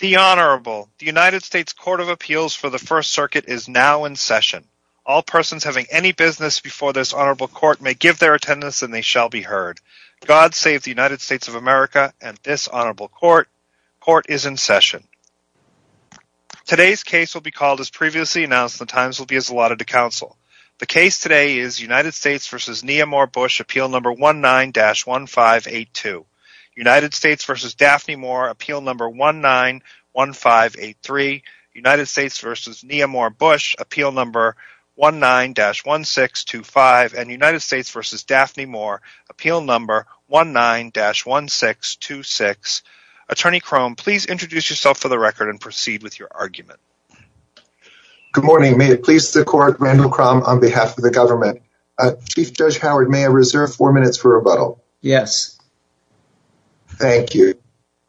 The Honorable, the United States Court of Appeals for the First Circuit is now in session. All persons having any business before this Honorable Court may give their attendance and they shall be heard. God save the United States of America and this Honorable Court. Court is in session. Today's case will be called as previously announced and the times will be as allotted to counsel. The case today is United States v. Neha Moore-Bush, Appeal No. 19-1582. United States v. Daphne Moore, Appeal No. 19-1583. United States v. Neha Moore-Bush, Appeal No. 19-1625. And United States v. Daphne Moore, Appeal No. 19-1626. Attorney Crum, please introduce yourself for the record and proceed with your argument. Good morning. May it please the court, Randall Crum on behalf of the government. Chief Judge Howard, may I reserve four minutes for rebuttal? Yes. Thank you.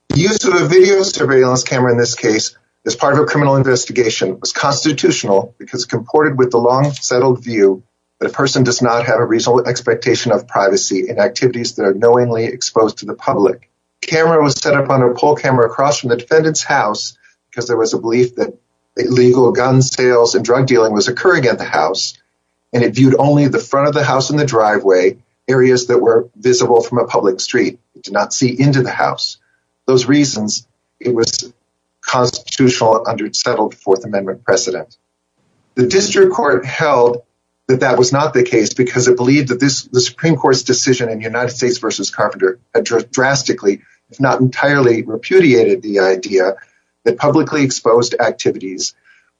The use of a video surveillance camera in this case as part of a criminal investigation was constitutional because it's comported with the long settled view that a person does not have a reasonable expectation of privacy in activities that are knowingly exposed to the public. The camera was set up on a pole camera across from the defendant's house because there was a belief that illegal gun sales and drug dealing was occurring at the house and it viewed only the front of the house and the driveway, areas that were visible from a public street. It did not see into the house. Those reasons it was constitutional under settled Fourth Amendment precedent. The district court held that that was not the case because it believed that the Supreme Court's decision in United States v. Carpenter addressed drastically, it's not entirely repudiated the idea that publicly exposed activities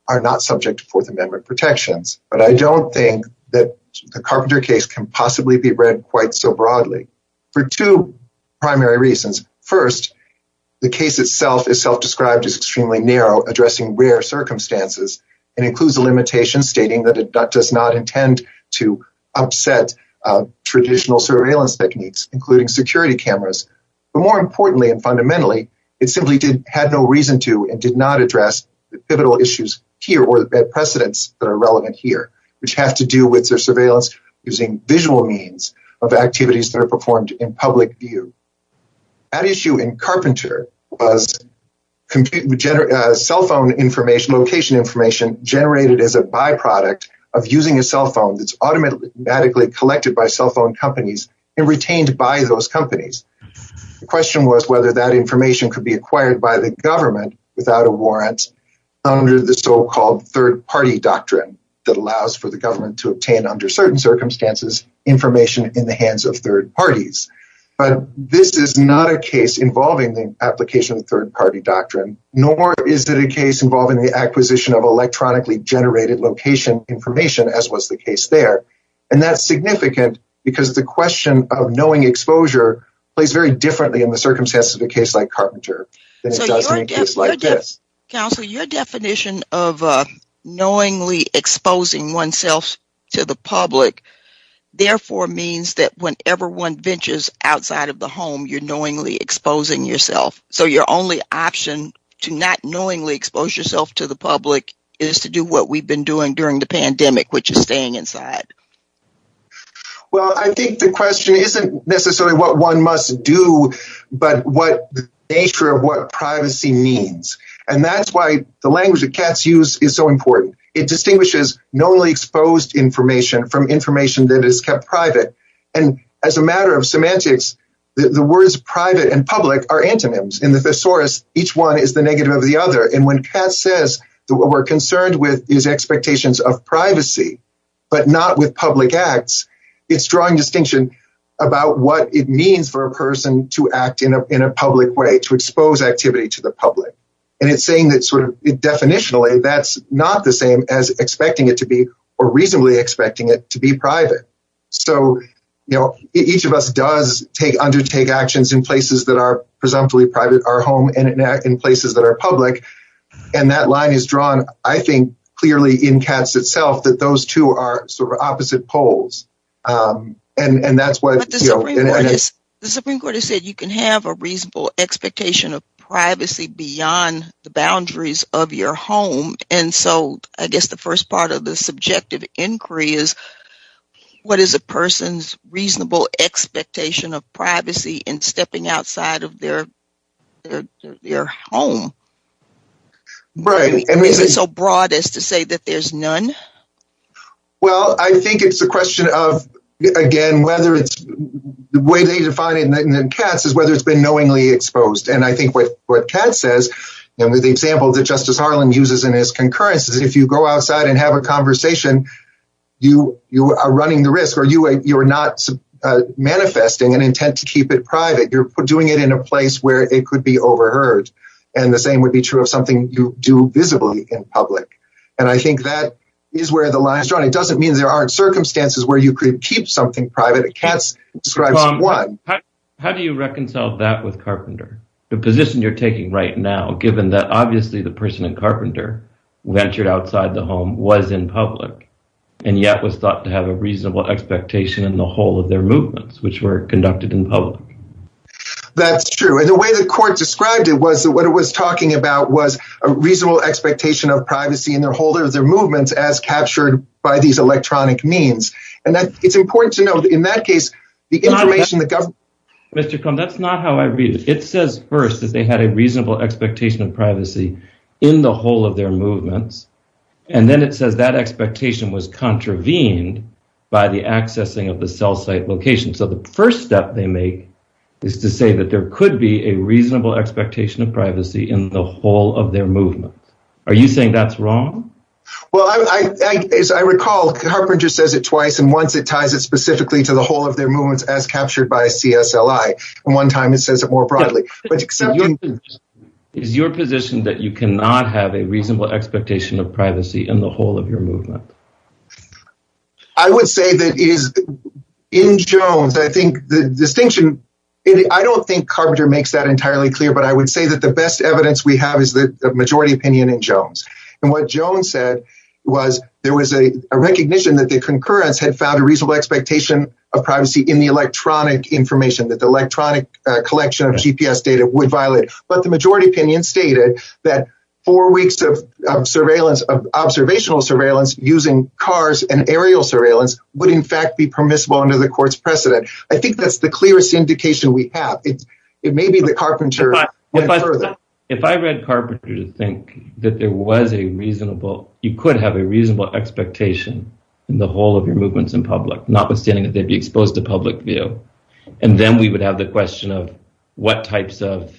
are not subject to Fourth Amendment protections. But I don't think that the Carpenter case can possibly be read quite so broadly for two primary reasons. First, the case itself is self-described as extremely narrow, addressing rare circumstances and includes the limitation stating that it does not intend to upset traditional surveillance techniques, including security cameras. But more importantly and fundamentally, it simply had no reason to and did not address the pivotal issues here or the precedents that are relevant here, which have to do with their surveillance using visual means of activities that are performed in public view. That issue in Carpenter was cell phone information, location information generated as a byproduct of using a cell phone that's automatically collected by cell phone companies and retained by those companies. The question was whether that information could be acquired by the government without a warrant under the so-called third party doctrine that allows for the government to obtain under certain circumstances information in the hands of third parties. But this is not a case involving the application of third party doctrine, nor is it a case involving the acquisition of electronically generated location information as was the case there. And that's significant because the question of knowing exposure plays very differently in the circumstances of a case like Carpenter than it does in a case like this. Counselor, your definition of knowingly exposing oneself to the public, therefore means that whenever one ventures outside of the home, you're knowingly exposing yourself. So your only option to not knowingly expose yourself to the public is to do what we've been doing during the pandemic, which is staying inside. Well, I think the question isn't necessarily what one must do, but what nature of what privacy means. And that's why the language that Katz used is so important. It distinguishes knowingly exposed information from information that is kept private. And as a matter of semantics, the words private and public are antonyms. In the thesaurus, each one is the negative of the other. And when Katz says that what we're concerned with is expectations of privacy, but not with public acts, it's drawing distinction about what it means for a person to act in a public way, to expose activity to the public. And it's saying that sort of definitionally, that's not the same as expecting it to be or reasonably expecting it to be private. So, you know, each of us does undertake actions in places that are presumptively private, our home and in places that are public. And that line is drawn, I think, clearly in Katz itself, that those two are sort of opposite poles. And that's why the Supreme Court has said you can have a reasonable expectation of privacy beyond the boundaries of your home. And so I guess the first part of the subjective inquiry is what is a person's reasonable expectation of privacy in stepping outside of their home? Is it so broad as to say that there's none? Well, I think it's a question of, again, whether it's the way they define it in Katz is whether it's been knowingly exposed. And I think what Katz says, and the example that Justice Harlan uses in his concurrence is if you go outside and have a conversation, you are running the risk or you are not manifesting an intent to keep it private. You're doing it in a place where it could be overheard. And the same would be true of something you do visibly in public. And I think that is where the line is drawn. It doesn't mean there aren't circumstances where you could keep something private. Katz describes one. How do you reconcile that with Carpenter? The position you're taking right now, given that obviously the person in Carpenter ventured outside the home, was in public, and yet was thought to have a reasonable expectation in the whole of their movements, which were conducted in public. That's true. And the way the court described it was that what it was talking about was a reasonable expectation of privacy in the whole of their movements as captured by these electronic means. And that it's important to know that in that case, the information that government... Mr. Cohen, that's not how I read it. It says first that they had a reasonable expectation of privacy in the whole of their movements. And then it says that expectation was contravened by the accessing of the cell site location. So the first step they make is to say that there could be a reasonable expectation of privacy in the whole of their movement. Are you saying that's wrong? Well, as I recall, Carpenter just says it twice, and once it ties it specifically to the whole of their movements as captured by CSLI, and one time it says it more broadly. But is your position that you cannot have a reasonable expectation of privacy in the whole of your movement? I would say that in Jones, I think the distinction... I don't think Carpenter makes that entirely clear, but I would say that the best evidence we have is the majority opinion in Jones. And what Jones said was there was a recognition that the concurrence had found a reasonable expectation of privacy in the electronic information, that the electronic collection of GPS data would violate. But the majority opinion stated that four weeks of observational surveillance using cars and aerial surveillance would in fact be permissible under the court's precedent. I think that's the clearest indication we have. It may be that Carpenter went further. If I read Carpenter to think that there was a reasonable... the whole of your movements in public, notwithstanding that they'd be exposed to public view, and then we would have the question of what types of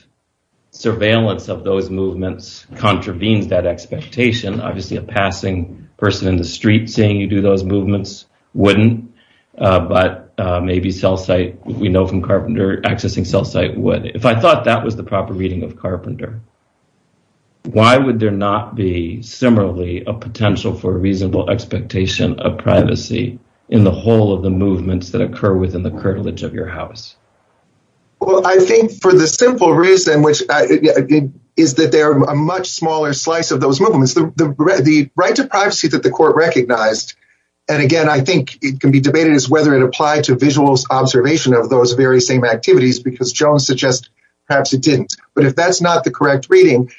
surveillance of those movements contravened that expectation. Obviously, a passing person in the street saying you do those movements wouldn't, but maybe cell site, we know from Carpenter, accessing cell site would. If I thought that was the proper reading of Carpenter, why would there not be similarly a potential for a reasonable expectation of privacy in the whole of the movements that occur within the curtilage of your house? Well, I think for the simple reason, which is that they're a much smaller slice of those movements. The right to privacy that the court recognized, and again, I think it can be debated as whether it applied to visuals observation of those very same activities, because Jones suggests perhaps it didn't. But if that's not the correct reading,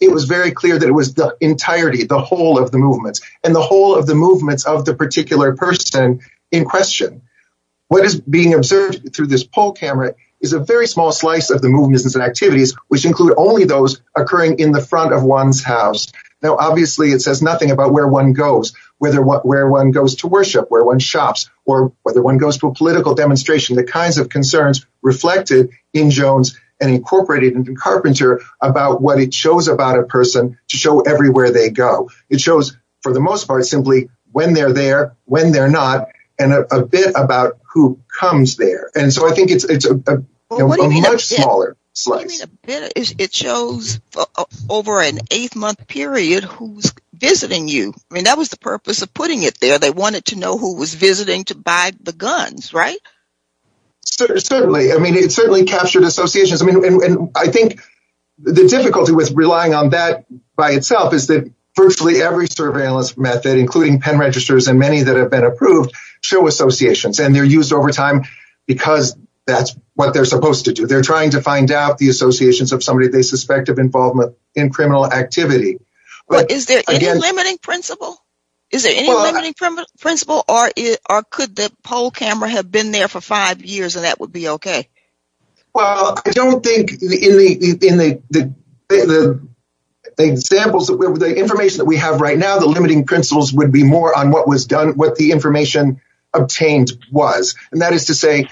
it was very clear that it was the entirety, the whole of the movements and the whole of the movements of the particular person in question. What is being observed through this poll camera is a very small slice of the movements and activities, which include only those occurring in the front of one's house. Now, obviously it says nothing about where one goes, whether where one goes to worship, where one shops, or whether one goes to a political demonstration, the kinds of concerns reflected in Jones and incorporated in Carpenter about what it shows about a person to show everywhere they go. It shows, for the most part, simply when they're there, when they're not, and a bit about who comes there. And so I think it's a much smaller slice. It shows over an eight-month period who's visiting you. I mean, that was the purpose of putting it there. They wanted to know who was visiting to buy the guns, right? Certainly. I mean, it certainly captured associations. I mean, I think the difficulty with relying on that by itself is that virtually every surveillance method, including pen registers and many that have been approved, show associations. And they're used over time because that's what they're supposed to do. They're trying to find out the associations of somebody they suspect of involvement in criminal activity. Is there any limiting principle? Is there any limiting principle, or could the poll camera have been there for five years and that would be okay? Well, I don't think in the examples, the information that we have right now, the limiting principles would be more on what was done, what the information obtained was. And that is to say,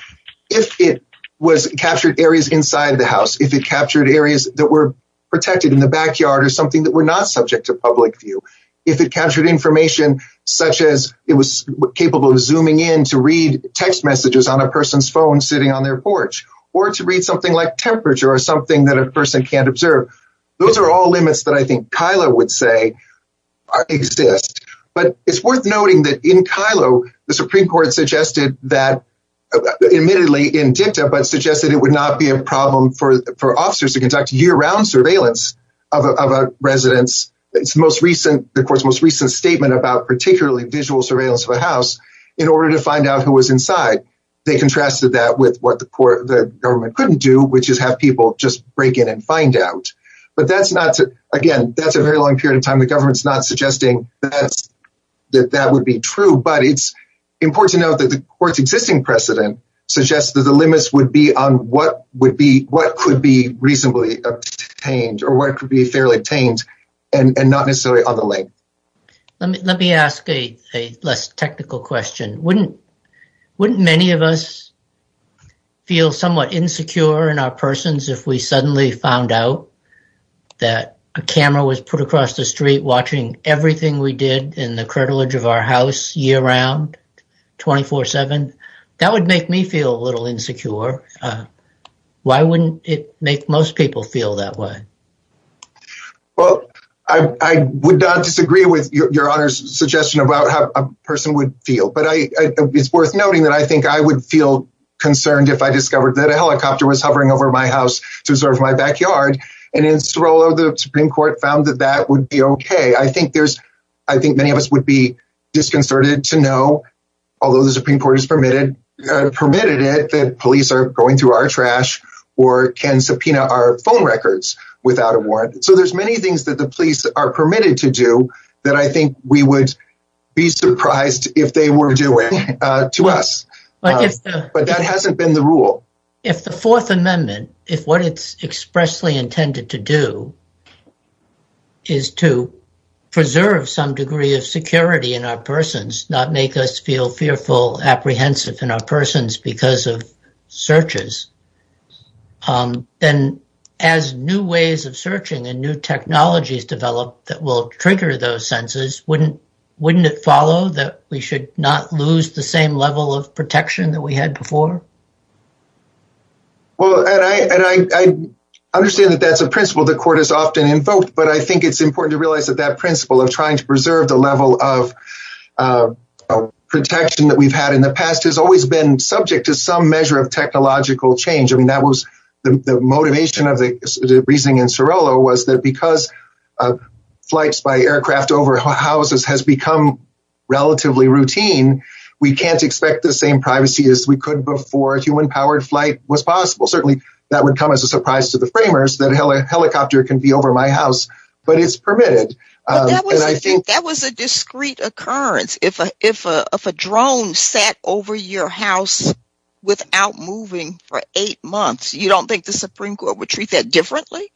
if it was captured areas inside the house, if it captured areas that were protected in the backyard or something that were not subject to public view, if it captured information such as it was capable of zooming in to read text messages on a person's phone sitting on their porch, or to read something like temperature or something that a person can't observe, those are all limits that I think Kylo would say exist. But it's worth noting that in Kylo, the Supreme Court suggested that, admittedly in dicta, but suggested it would not be a problem for officers to conduct year round surveillance of a resident's most recent, of course, most recent statement about particularly visual surveillance of a house in order to find out who was inside. They contrasted that with what the court, the government couldn't do, which is have people just break in and find out. But that's not to, again, that's a very long period of time. The government's not suggesting that that would be true, but it's important to note that the court's existing precedent suggests that the limits would be on what would be, what could be reasonably obtained or what could be fairly obtained and not necessarily on the link. Let me ask a less technical question. Wouldn't, wouldn't many of us feel somewhat insecure in our persons if we suddenly found out that a camera was put across the street watching everything we did in the curtilage of our house year round, 24-7? That would make me feel a little insecure. Why wouldn't it make most people feel that way? Well, I would not disagree with Your Honor's suggestion about how a person would feel, but I, it's worth noting that I think I would feel concerned if I discovered that a helicopter was hovering over my house to observe my backyard. And in Sorolla, the Supreme Court found that that would be okay. I think there's, I think many of us would be disconcerted to know, although the Supreme Court has permitted, permitted it, that police are going through our trash or can subpoena our phone records without a warrant. So there's many things that the police are permitted to do that I think we would be doing to us. But that hasn't been the rule. If the Fourth Amendment, if what it's expressly intended to do is to preserve some degree of security in our persons, not make us feel fearful, apprehensive in our persons because of searches, then as new ways of searching and new technologies develop that will trigger those senses, wouldn't, wouldn't it follow that we should not lose the same level of protection that we had before? Well, and I understand that that's a principle the court has often invoked, but I think it's important to realize that that principle of trying to preserve the level of protection that we've had in the past has always been subject to some measure of technological change. And that was the motivation of the reasoning in Cirillo was that because flights by aircraft over houses has become relatively routine, we can't expect the same privacy as we could before human powered flight was possible. Certainly that would come as a surprise to the framers that a helicopter can be over my house, but it's permitted. That was a discrete occurrence. If a drone sat over your house without moving for eight months, you don't think the Supreme Court would treat that differently?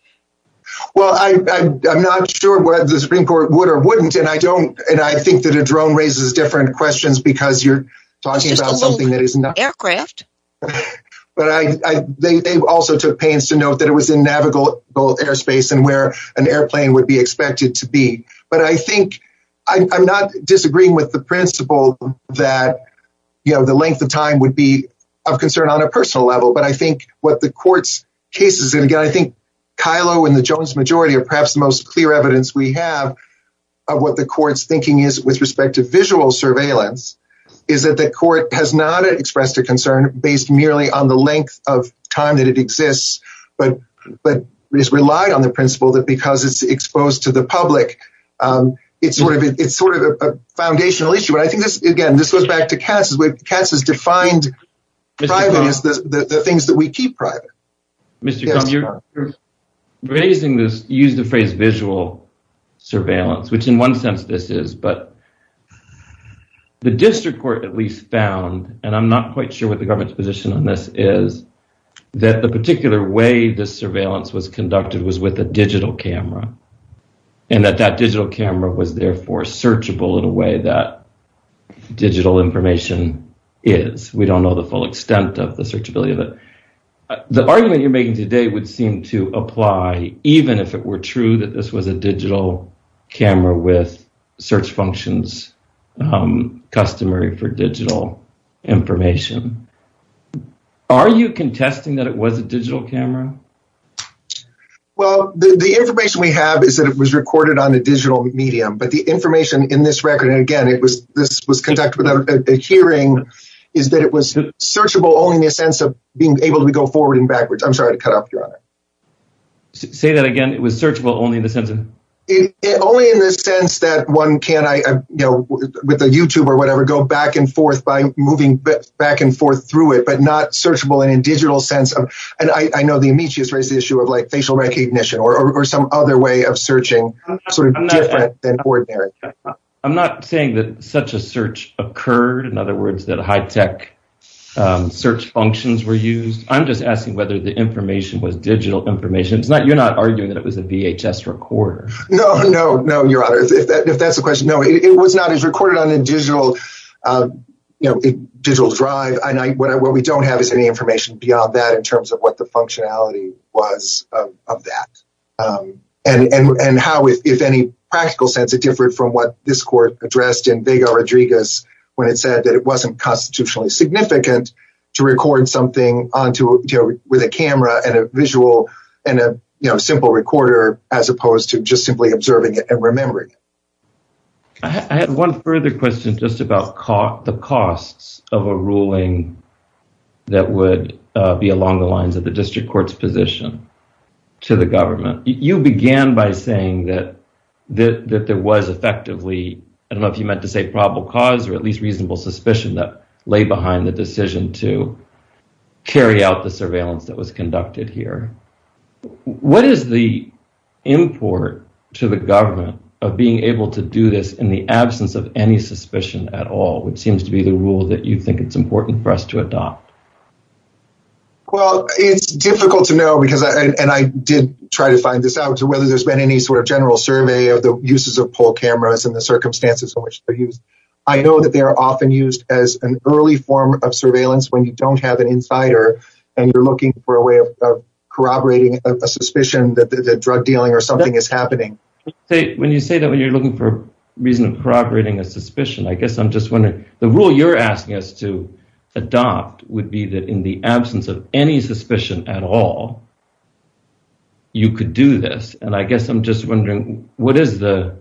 Well, I'm not sure whether the Supreme Court would or wouldn't. And I don't and I think that a drone raises different questions because you're talking about something that is not aircraft. But I think they also took pains to note that it was in navigable airspace and where an airplane would be expected to be. But I think I'm not disagreeing with the principle that, you know, the length of time would be of concern on a personal level. But I think what the court's case is, and again, I think Kylo and the Jones majority are perhaps the most clear evidence we have of what the court's thinking is with respect to visual surveillance, is that the court has not expressed a concern based merely on the length of time that it exists. But this relied on the principle that because it's exposed to the public, it's sort of a foundational issue. I think, again, this goes back to Cass's, where Cass has defined privacy as the things that we keep private. Mr. Cummings, raising this use the phrase visual surveillance, which in one sense this is, but the district court at least found, and I'm not quite sure what the government's position on this is, that the particular way the surveillance was conducted was with a digital camera and that that digital camera was therefore searchable in a way that digital information is. We don't know the full extent of the searchability of it. The argument you're making today would seem to apply even if it were true that this was a digital camera with search functions customary for digital information. Are you contesting that it was a digital camera? Well, the information we have is that it was recorded on a digital medium, but the information in this record, and again, this was conducted without a hearing, is that it was searchable only in the sense of being able to go forward and backwards. I'm sorry to cut off your honor. Say that again. It was searchable only in the sense of? Only in the sense that one can, with a YouTube or whatever, go back and forth by moving back and forth through it, but not searchable in a digital sense of, and I know the amicius raised the issue of like facial recognition or some other way of searching. I'm not saying that such a search occurred. In other words, that high tech search functions were used. I'm just asking whether the information was digital information. You're not arguing that it was a VHS recorder. No, no, no, your honor. If that's the question. No, it was not. It was recorded on a digital drive, and what we don't have is any information beyond that in terms of what the functionality was of that and how, if any practical sense, it differed from what this court addressed in Vega-Rodriguez when it said that it wasn't constitutionally significant to record something with a camera and a visual and a simple recorder as opposed to just simply observing it and remembering it. I had one further question just about the costs of a ruling that would be along the lines of the district court's position to the government. You began by saying that there was effectively, I don't know if you meant to say probable cause or at least reasonable suspicion that lay behind the decision to carry out the surveillance that was conducted here. What is the import to the government of being able to do this in the absence of any suspicion at all, which seems to be the rule that you think it's important for us to adopt? Well, it's difficult to know, and I did try to find this out, whether there's been any sort of general survey of the uses of poll cameras and the circumstances in which they're used. I know that they are often used as an early form of surveillance when you don't have an insider and you're looking for a way of corroborating a suspicion that drug dealing or something is happening. When you say that when you're looking for a reason of corroborating a suspicion, I guess I'm just wondering, the rule you're asking us to adopt would be that in the absence of any suspicion at all, you could do this. And I guess I'm just wondering, what is the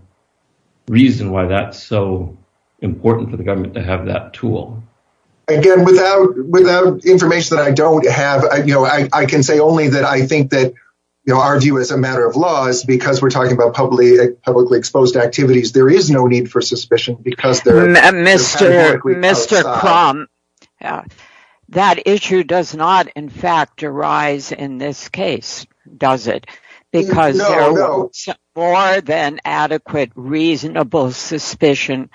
reason why that's so important for the information that I don't have? I can say only that I think that our view as a matter of law is because we're talking about publicly, publicly exposed activities. There is no need for suspicion because there is a problem. That issue does not, in fact, arise in this case, does it? Because no more than adequate, reasonable suspicion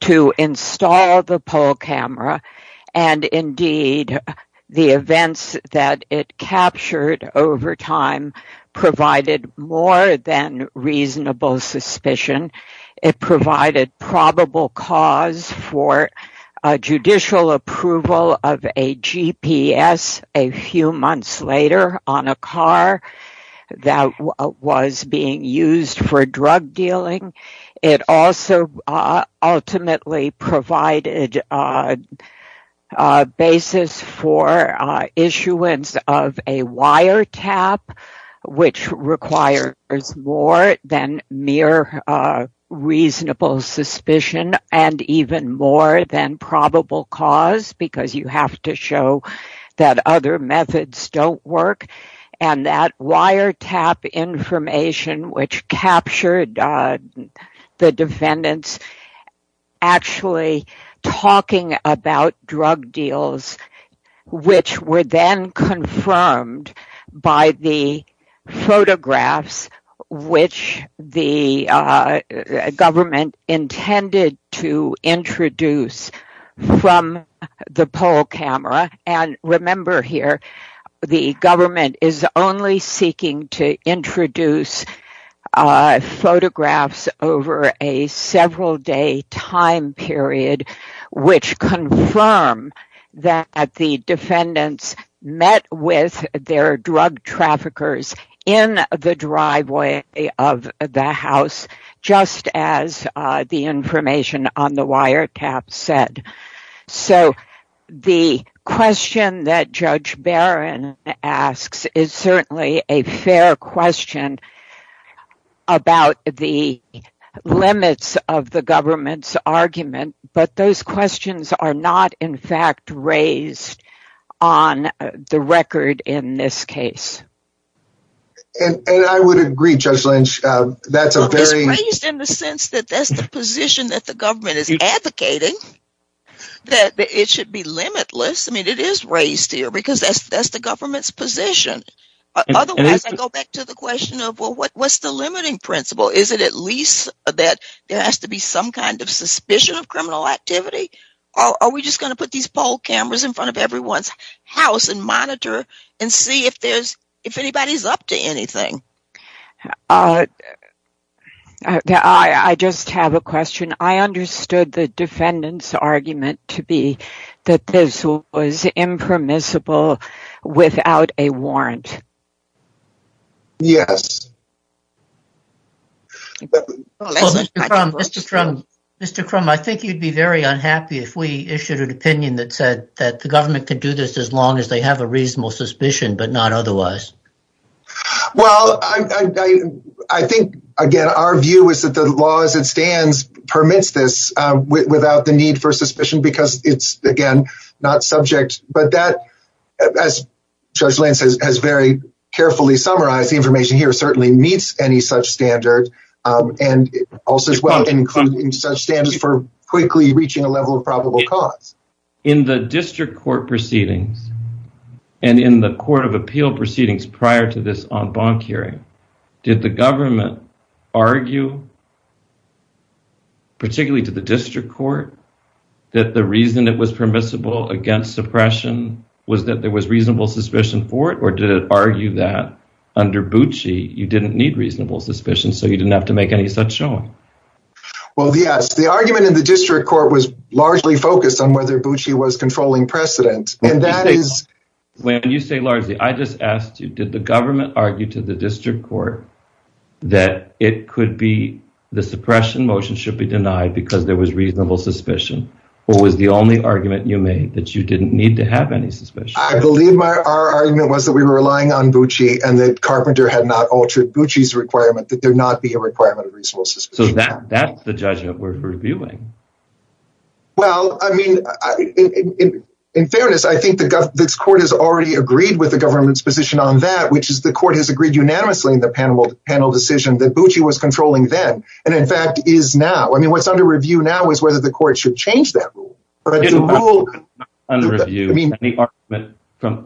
to install the poll camera and indeed the events that it captured over time provided more than reasonable suspicion. It provided probable cause for judicial approval of a GPS a few months later on a car that was being used for drug dealing. It also ultimately provided a basis for issuance of a wiretap, which requires more than mere reasonable suspicion and even more than probable cause because you have to show that other methods don't work. And that wiretap information, which captured the defendants actually talking about drug deals, which were then confirmed by the photographs, which the government intended to introduce from the poll camera. And remember here, the government is only seeking to introduce photographs over a several day time period, which confirm that the defendants met with their drug traffickers in the driveway of the house, just as the information on the wiretap said. So the question that Judge Barron asks is certainly a fair question about the limits of the government's argument, but those questions are not, in fact, raised on the record in this case. And I would agree, Judge Lynch, that's a very... It's raised in the sense that that's the position that the government is advocating. That it should be limitless. I mean, it is raised here because that's the government's position. Otherwise, I go back to the question of, well, what's the limiting principle? Is it at least that there has to be some kind of suspicion of criminal activity? Or are we just going to put these poll cameras in front of everyone's house and monitor and see if there's... If anybody's up to anything? I just have a question. I understood the defendant's argument to be that this was impermissible without a warrant. Yes. Mr. Crum, I think you'd be very unhappy if we issued an opinion that said that the government could do this as long as they have a reasonable suspicion, but not otherwise. Well, I think, again, our view is that the law as it stands permits this without the need for suspicion because it's, again, not subject. But that, as Judge Lynch has very carefully summarized, the information here certainly meets any such standard. And also, as well, can include any such standards for quickly reaching a level of probable cause. In the district court proceedings and in the court of appeal proceedings prior to this en banc hearing, did the government argue, particularly to the district court, that the reason it was permissible against suppression was that there was reasonable suspicion for it? Or did it argue that under Bucci, you didn't need reasonable suspicion, so you didn't have to make any such showing? Well, yes. The argument in the district court was largely focused on whether Bucci was controlling precedent. When you say largely, I just asked you, did the government argue to the district court that it could be, the suppression motion should be denied because there was reasonable suspicion? Or was the only argument you made that you didn't need to have any suspicion? I believe our argument was that we were relying on Bucci and that Carpenter had not altered Bucci's requirement that there not be a requirement of reasonable suspicion. So that's the judgment we're reviewing. Well, I mean, in fairness, I think the court has already agreed with the government's position on that, which is the court has agreed unanimously in the panel decision that Bucci was controlling then, and in fact is now. I mean, what's under review now is whether the court should change that rule. Under review,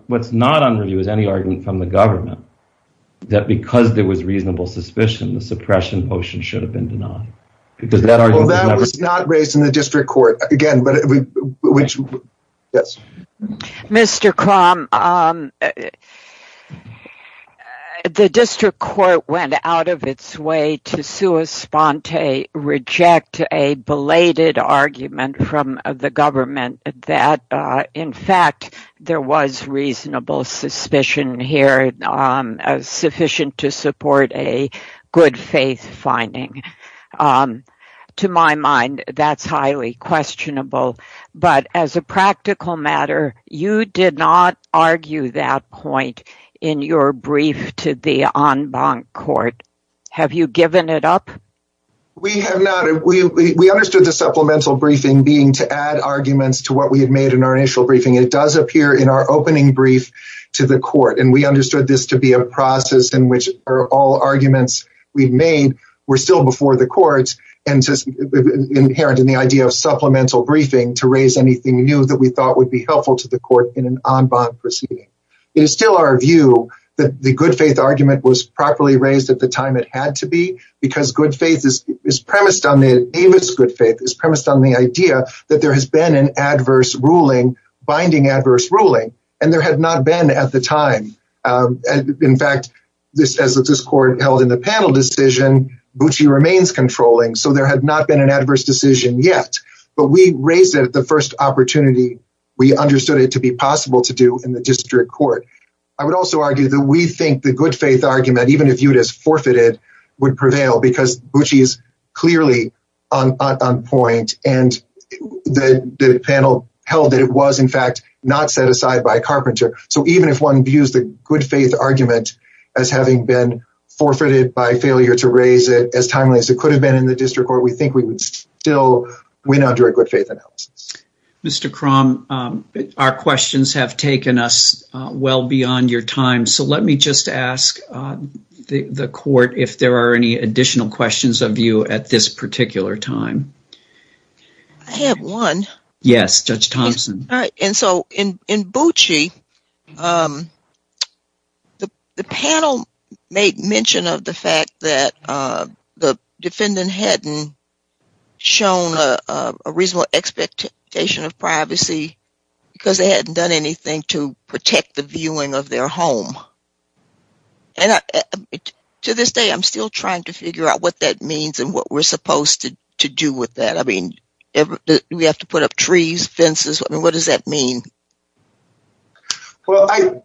what's not under review is any argument from the government that because there was reasonable suspicion, the suppression motion should have been denied because that was not raised in the district court again, but we should. Yes. Mr. Crumb, um, the district court went out of its way to Sue a sponte reject a belated argument from the government that, uh, in fact, there was reasonable suspicion here, um, sufficient to support a good faith finding. Um, to my mind, that's highly questionable, but as a practical matter, you did not argue that point in your brief to the on bond court. Have you given it up? We have not, we, we understood the supplemental briefing being to add arguments to what we've made in our initial briefing, it does appear in our opening brief to the court. And we understood this to be a process in which are all arguments we've made. We're still before the courts and just inherent in the idea of supplemental briefing to raise anything new that we thought would be helpful to the court in an on bond proceeding. It's still our view that the good faith argument was properly raised at the time it had to be because good faith is premised on the Davis. Good faith is premised on the idea that there has been an adverse ruling binding adverse ruling, and there has not been at the time. In fact, this says that this court held in the panel decision, but she remains controlling. So there has not been an adverse decision yet, but we raised it at the first opportunity. We understood it to be possible to do in the district court. I would also argue that we think the good faith argument, even if you'd as forfeited would prevail because she's clearly on point and the panel held that it was in fact, not set aside by Carpenter. So even if one views the good faith argument as having been forfeited by failure to raise it as timely as it could have been in the district court, we think we would still, we now do a good faith analysis. Mr. Crumb, our questions have taken us well beyond your time. So let me just ask the court if there are any additional questions of you at this particular time. I have one. Yes. Judge Thompson. And so in, in Bootsy, um, the panel make mention of the fact that, uh, the defendant hadn't shown a reasonable expectation of privacy because they hadn't done anything to protect the viewing of their home to this day. I'm still trying to figure out what that means and what we're supposed to do with that. I mean, we have to put up trees, fences. What does that mean? Well, I,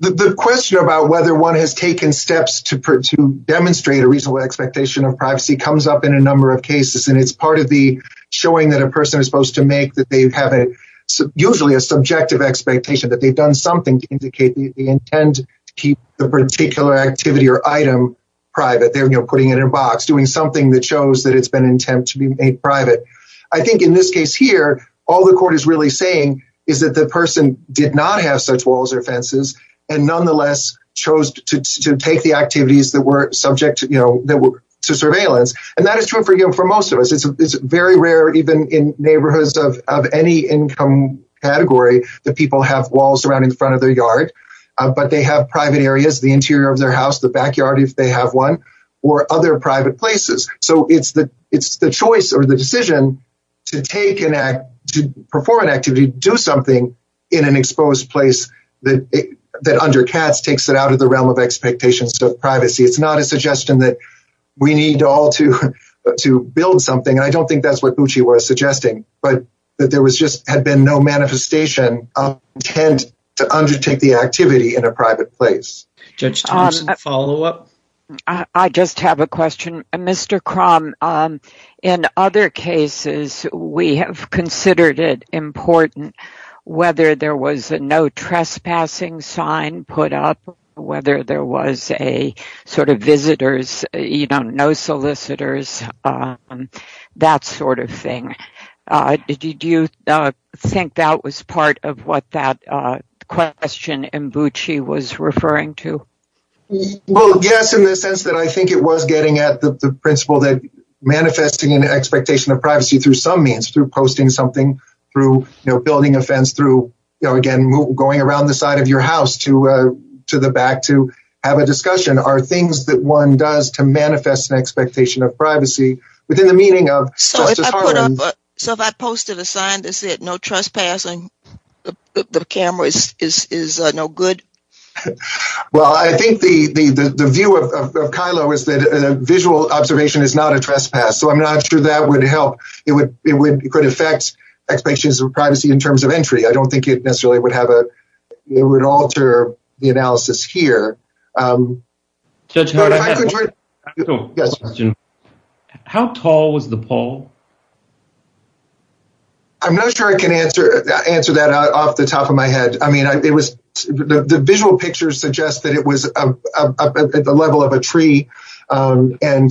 the question about whether one has taken steps to, to demonstrate a reasonable expectation of privacy comes up in a number of cases. And it's part of the showing that a person is supposed to make that they've had a usually a subjective expectation that they've done something to indicate that they intend to keep the particular activity or item private. They're putting it in a box, doing something that shows that it's been a private, I think in this case here, all the court is really saying is that the person did not have such walls or fences and nonetheless chose to take the activities that were subject to, you know, to surveillance. And that is true for, you know, for most of us, it's very rare, even in neighborhoods of, of any income category that people have walls around in front of their yard, but they have private areas, the interior of their house, the backyard, if they have one or other private places. So it's the, it's the choice or the decision to take an act, to perform an activity, do something in an exposed place that, that under cats takes it out of the realm of expectations of privacy, it's not a suggestion that. We need all to, to build something. I don't think that's what Gucci was suggesting, but that there was just, had been no manifestation of intent to undertake the activity in a private place. Follow up. I just have a question, Mr. Crumb, um, in other cases, we have considered it important whether there was a, no trespassing sign put up, whether there was a sort of visitors, you don't know, solicitors, um, that sort of thing. Uh, did you, uh, think that was part of what that, uh, question and Gucci was referring to? Well, yes, in the sense that I think it was getting at the principle that manifesting an expectation of privacy through some means through posting something through, you know, building a fence through, you know, again, going around the side of your house to, uh, to the back, to have a discussion are things that one does to manifest an expectation of privacy within the meaning of. So if I posted a sign that said no trespassing, the cameras is no good. Well, I think the, the, the view of Kyla was that a visual observation is not a trespass. So I'm not sure that would help. It would, it would affect expectations of privacy in terms of entry. I don't think it necessarily would have a, it would alter the analysis here. Um, how tall was the pole? I'm not sure I can answer, answer that off the top of my head. I mean, it was the visual pictures suggest that it was up at the level of a tree, um, and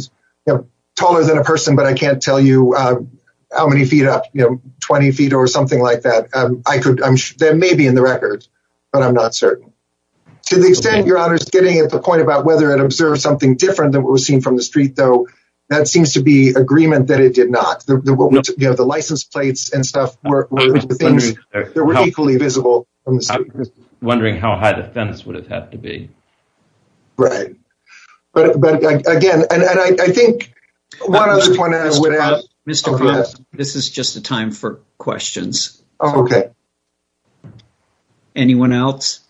taller than a person, but I can't tell you how many feet up, you know, 20 feet or something like that, um, I could, I'm sure there may be in the records, but I'm not certain to the extent you're honest getting at the point about whether it observes something different than what we're seeing from the street, though, that seems to be agreement that it did not, you know, the license plates and stuff. I'm wondering how high the fence would have had to be. Right. But again, and I think this is just a time for questions. Okay. Anyone else?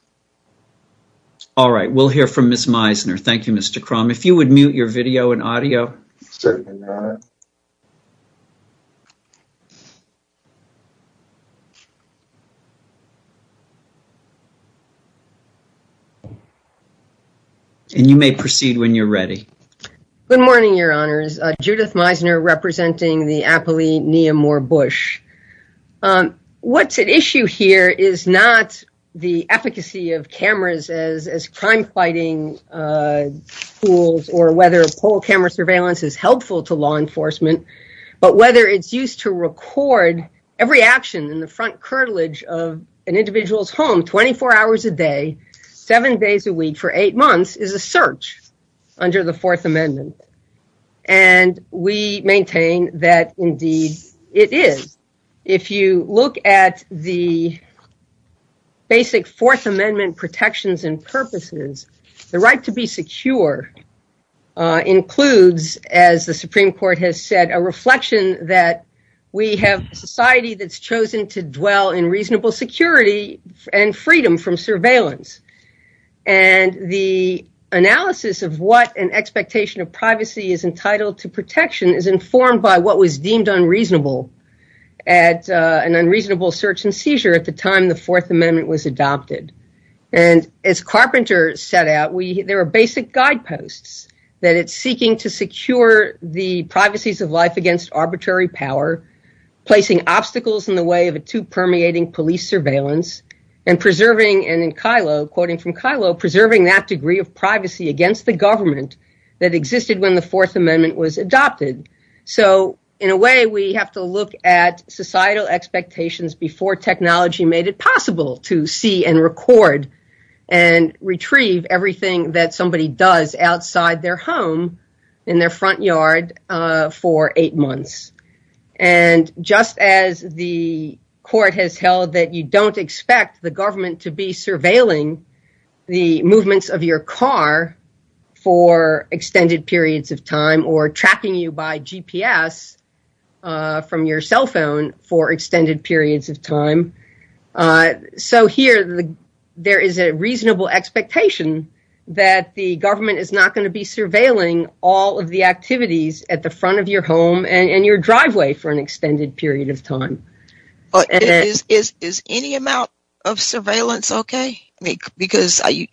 All right. We'll hear from Ms. Meisner. Thank you, Mr. Crumb. If you would mute your video and audio. And you may proceed when you're ready. Good morning, your honors. Judith Meisner representing the appellee, Nia Moore-Bush. Um, what's at issue here is not the efficacy of cameras as, as crime fighting, uh, tools or whether a pole camera surveillance is helpful to law enforcement, but whether it's used to record every action that's And the fact that we have a section in the front cartilage of an individual's home, 24 hours a day, seven days a week for eight months is a search under the fourth amendment. And we maintain that indeed it is. If you look at the basic fourth amendment protections and purposes, the right to be secure includes, as the Supreme court has said, a reflection that we have a society that's chosen to dwell in reasonable security and freedom from surveillance. And the analysis of what an expectation of privacy is entitled to protection is informed by what was deemed unreasonable at an unreasonable search and seizure at the time the fourth amendment was adopted. And as Carpenter set out, we, there are basic guideposts that it's seeking to secure the privacies of life against arbitrary power, placing obstacles in the way of a two permeating police surveillance and preserving, and in Kylo, quoting from Kylo, preserving that degree of privacy against the government that existed when the fourth amendment was adopted. So in a way we have to look at societal expectations before technology made it possible to see and record and retrieve everything that somebody does outside their home in their front yard for eight months. And just as the court has held that you don't expect the government to be surveilling the movements of your car for extended periods of time, or tracking you by GPS from your cell phone for extended periods of time. So here there is a reasonable expectation that the government is not going to be surveilling all of the activities at the front of your home and your driveway for an extended period of time. But is any amount of surveillance okay? Because I,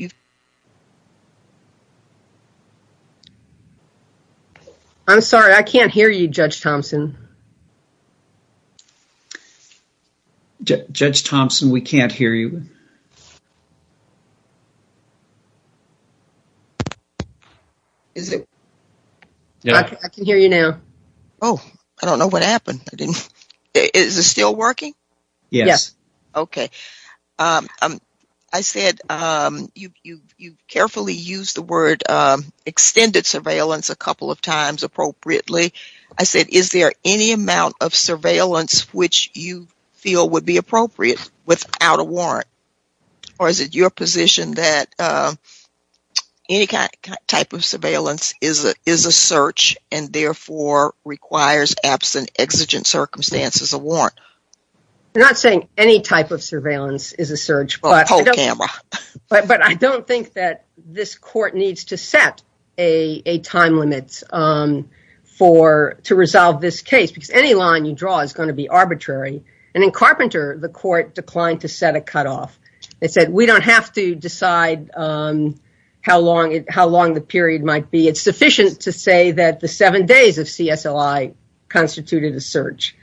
I'm sorry, I can't hear you, Judge Thompson. Judge Thompson, we can't hear you. I can hear you now. Oh, I don't know what happened. I didn't, is it still working? Yes. Okay. I said, you, you, you carefully used the word extended surveillance a couple of times, but is there any amount of surveillance which you feel would be appropriate without a warrant? Or is it your position that any type of surveillance is a, is a search and therefore requires absent exigent circumstances, a warrant? They're not saying any type of surveillance is a search, but I don't think that this court needs to set a, a time limit for, to resolve this case. If any line you draw is going to be arbitrary. And in Carpenter, the court declined to set a cutoff. It said, we don't have to decide how long, how long the period might be. It's sufficient to say that the seven days of CSLI constituted a search.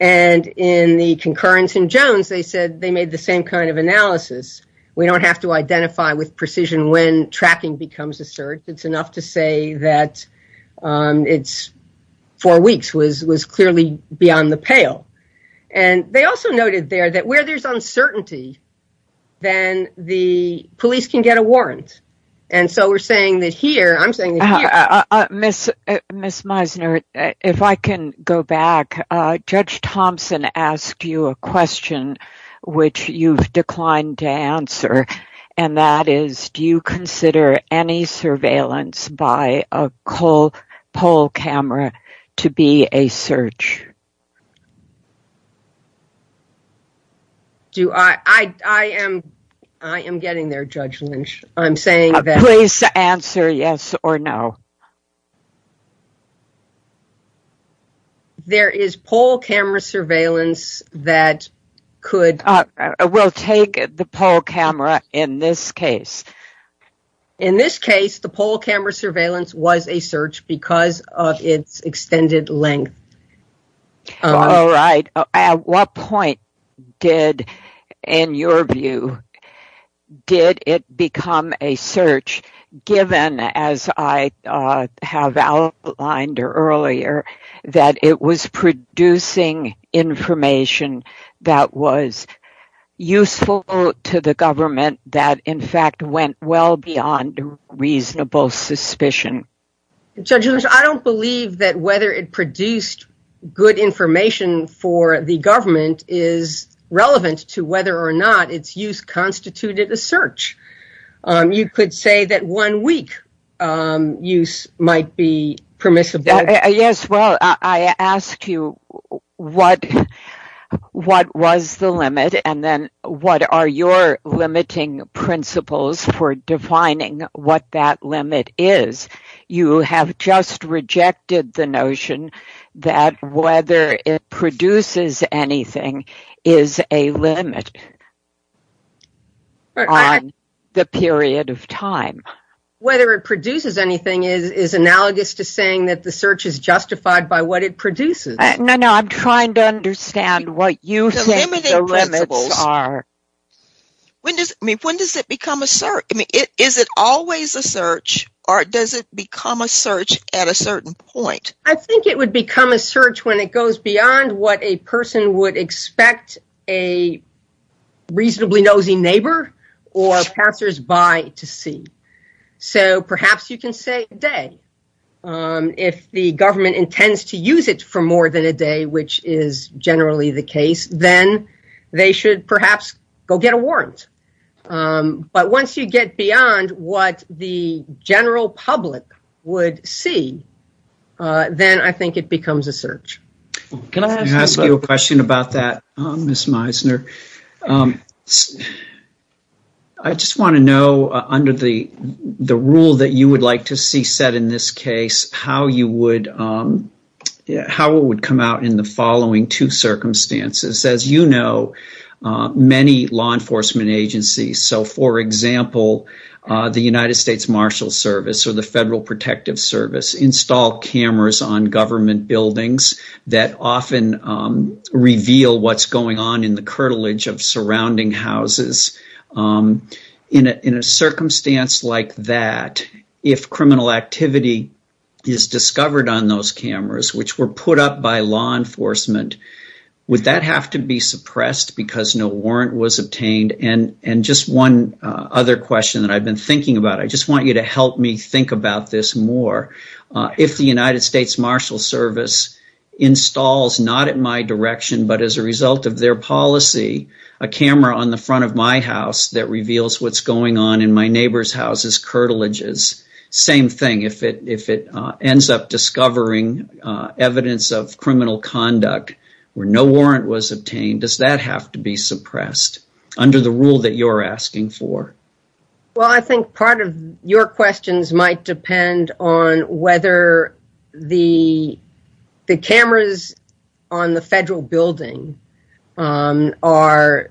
And in the concurrence in Jones, they said they made the same kind of analysis. We don't have to identify with precision when tracking becomes a search. It's enough to say that it's four weeks was, was clearly beyond the pale. And they also noted there that where there's uncertainty, then the police can get a warrant. And so we're saying that here, I'm saying, Miss, Miss Meisner, if I can go back, Judge Thompson asked you a question, which you've declined to answer. And that is, do you consider any surveillance by a poll, poll camera to be a search? Do I, I, I am, I am getting there, Judge Lynch. I'm saying, please answer yes or no. There is poll camera surveillance that could. We'll take the poll camera in this case. In this case, the poll camera surveillance was a search because of its extended length. All right. At what point did, in your view, did it become a search given as I have outlined earlier that it was producing information that was useful to the government that in fact went well beyond reasonable suspicion? Judge Lynch, I don't believe that whether it produced good information for the government is relevant to whether or not its use constituted a search. You could say that one week use might be permissible. Yes. Well, I ask you what, what was the limit and then what are your limiting principles for defining what that limit is? You have just rejected the notion that whether it produces anything is a limit. The period of time, whether it produces anything is analogous to saying that the search is justified by what it produces. No, no, I'm trying to understand what you think the limits are. When does, when does it become a search? I mean, is it always a search or does it become a search at a certain point? I think it would become a search when it goes beyond what a person would expect a character's by to see. So perhaps you can say a day. If the government intends to use it for more than a day, which is generally the case, then they should perhaps go get a warrant. But once you get beyond what the general public would see, then I think it becomes a search. Can I ask you a question about that, Ms. I just want to know under the the rule that you would like to see set in this case, how you would, how it would come out in the following two circumstances. As you know, many law enforcement agencies. So, for example, the United States Marshal Service or the Federal Protective Service install cameras on government buildings that often reveal what's going on in the building. In a circumstance like that, if criminal activity is discovered on those cameras, which were put up by law enforcement, would that have to be suppressed because no warrant was obtained? And just one other question that I've been thinking about, I just want you to help me think about this more. If the United States Marshal Service installs, not at my direction, but as a result of their policy, a camera on the front of my house that reveals what's going on in my neighbor's house as curtilages, same thing. If it ends up discovering evidence of criminal conduct where no warrant was obtained, does that have to be suppressed under the rule that you're asking for? Well, I think part of your questions might depend on whether the cameras on the federal building are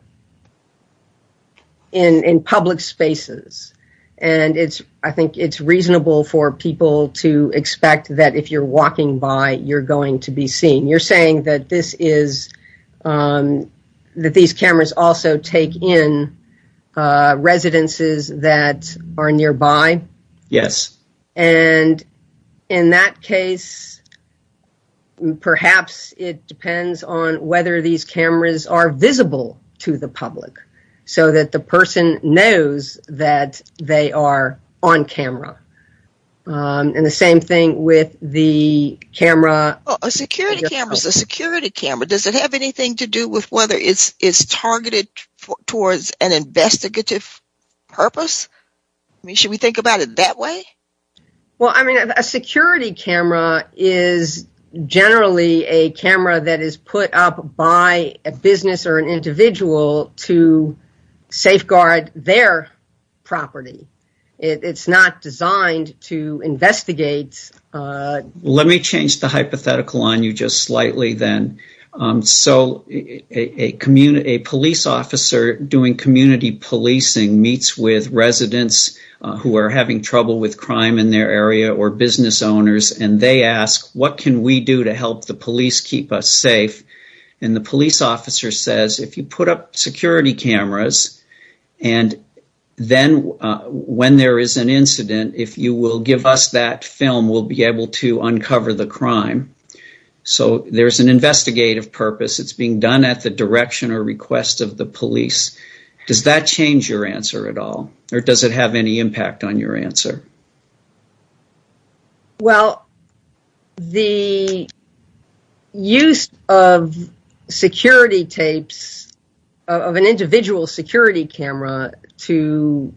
in public spaces. And it's I think it's reasonable for people to expect that if you're walking by, you're going to be seen. You're saying that this is that these cameras also take in residences that are nearby? Yes. And in that case, perhaps it depends on whether these cameras are visible to the public so that the person knows that they are on camera. And the same thing with the camera, a security cameras, a security camera, does it have anything to do with whether it's targeted towards an investigative purpose? Should we think about it that way? Well, I mean, a security camera is generally a camera that is put up by a business or an individual to safeguard their property. It's not designed to investigate. Let me change the hypothetical on you just slightly then. So a community police officer doing community policing meets with residents who are having trouble with crime in their area or business owners, and they ask, what can we do to help the police keep us safe? And the police officer says, if you put up security cameras and then when there is an incident, if you will give us that film, we'll be able to uncover the crime. So there's an investigative purpose. It's being done at the direction or request of the police. Does that change your answer at all or does it have any impact on your answer? Well, the use of security tapes of an individual security camera to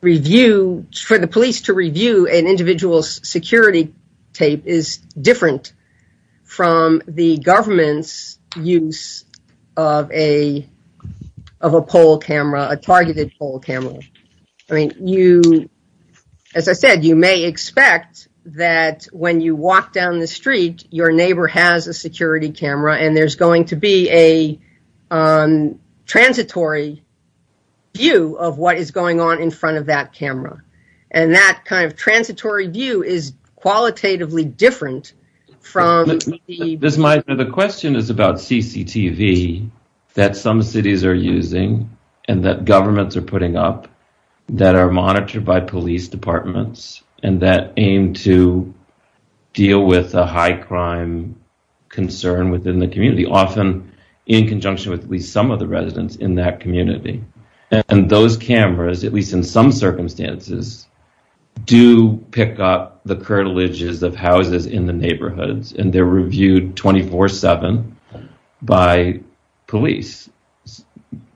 review, for the security tape is different from the government's use of a poll camera, a targeted poll camera. I mean, as I said, you may expect that when you walk down the street, your neighbor has a security camera and there's going to be a transitory view of what is going on in front of that camera. And that kind of transitory view is qualitatively different from the... The question is about CCTV that some cities are using and that governments are putting up that are monitored by police departments and that aim to deal with the high crime concern within the community, often in conjunction with some of the residents in that neighborhood, and the police, and the police protection agencies do pick up the curtilages of houses in the neighborhoods and they're reviewed 24-7 by police.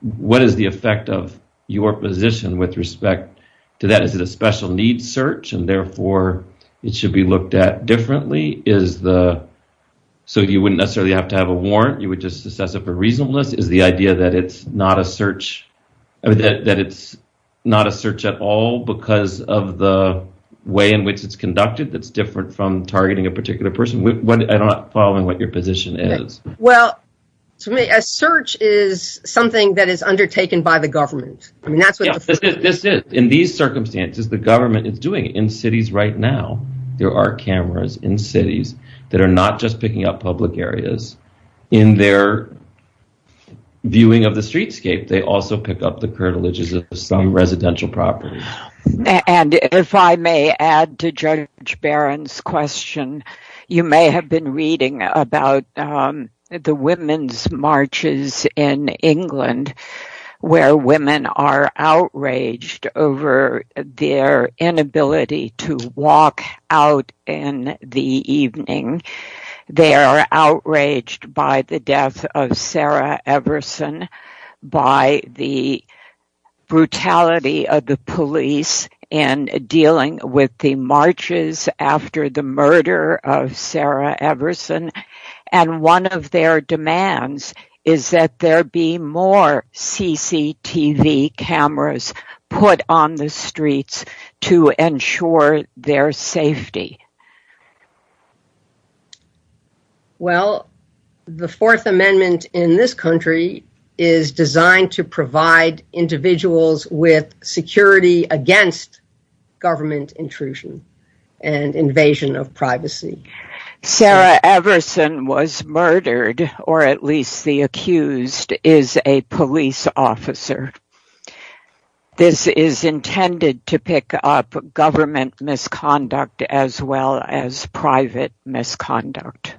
What is the effect of your position with respect to that? Is it a special needs search and therefore it should be looked at differently? Is the... So you wouldn't necessarily have to have a warrant. You would just assess it for reasonableness. Is the idea that it's not a search... That it's not a search at all because of the way in which it's conducted that's different from targeting a particular person? I'm not following what your position is. Well, to me, a search is something that is undertaken by the government. I mean, that's what... This is. In these circumstances, the government is doing it. In cities right now, there are cameras in cities that are not just picking up public areas in their viewing of the streetscape. They also pick up the curtilages of some residential properties. And if I may add to Judge Barron's question, you may have been reading about the women's marches in England where women are outraged over their inability to walk out in the evening. They are outraged by the death of Sarah Everson, by the brutality of the police in dealing with the marches after the murder of Sarah Everson. And one of their demands is that there be more CCTV cameras put on the streets to ensure their safety. Well, the Fourth Amendment in this country is designed to provide individuals with security against government intrusion and invasion of privacy. Sarah Everson was murdered, or at least the accused is a police officer. This is intended to pick up government misconduct as well as private misconduct.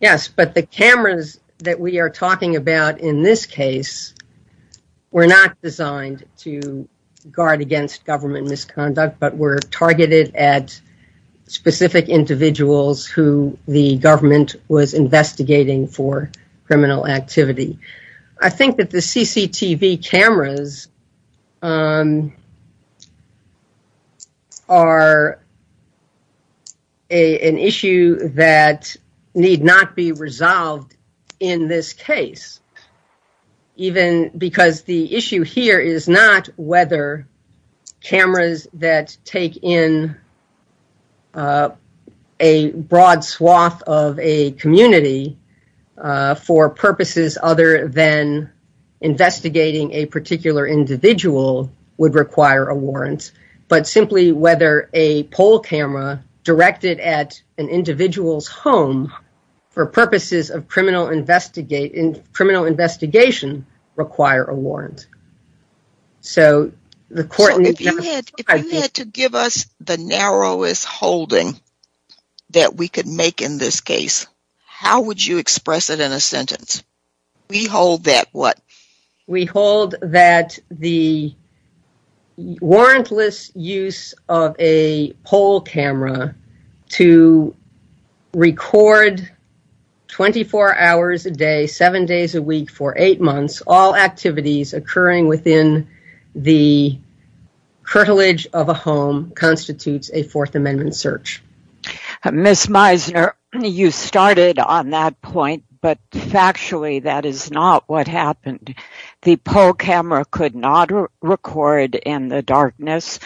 Yes, but the cameras that we are talking about in this case were not designed to guard against government misconduct, but were targeted at specific individuals who the government was investigating for criminal activity. I think that the CCTV cameras are an issue that need not be resolved in this case, even because the issue here is not whether cameras that take in a broad swath of a community for purposes other than investigating a particular individual would require a warrant, but simply whether a poll camera directed at an individual's home for purposes of criminal investigation require a warrant. So, the court needs to- If you had to give us the narrowest holding that we could make in this case, how would you express it in a sentence? We hold that what? We hold that the warrantless use of a poll camera to record 24 hours a day, seven days a week for eight months, all activities occurring within the cartilage of a home constitutes a Fourth Amendment search. Ms. Meisner, you started on that point, but factually that is not what happened. The poll camera could not record in the darkness.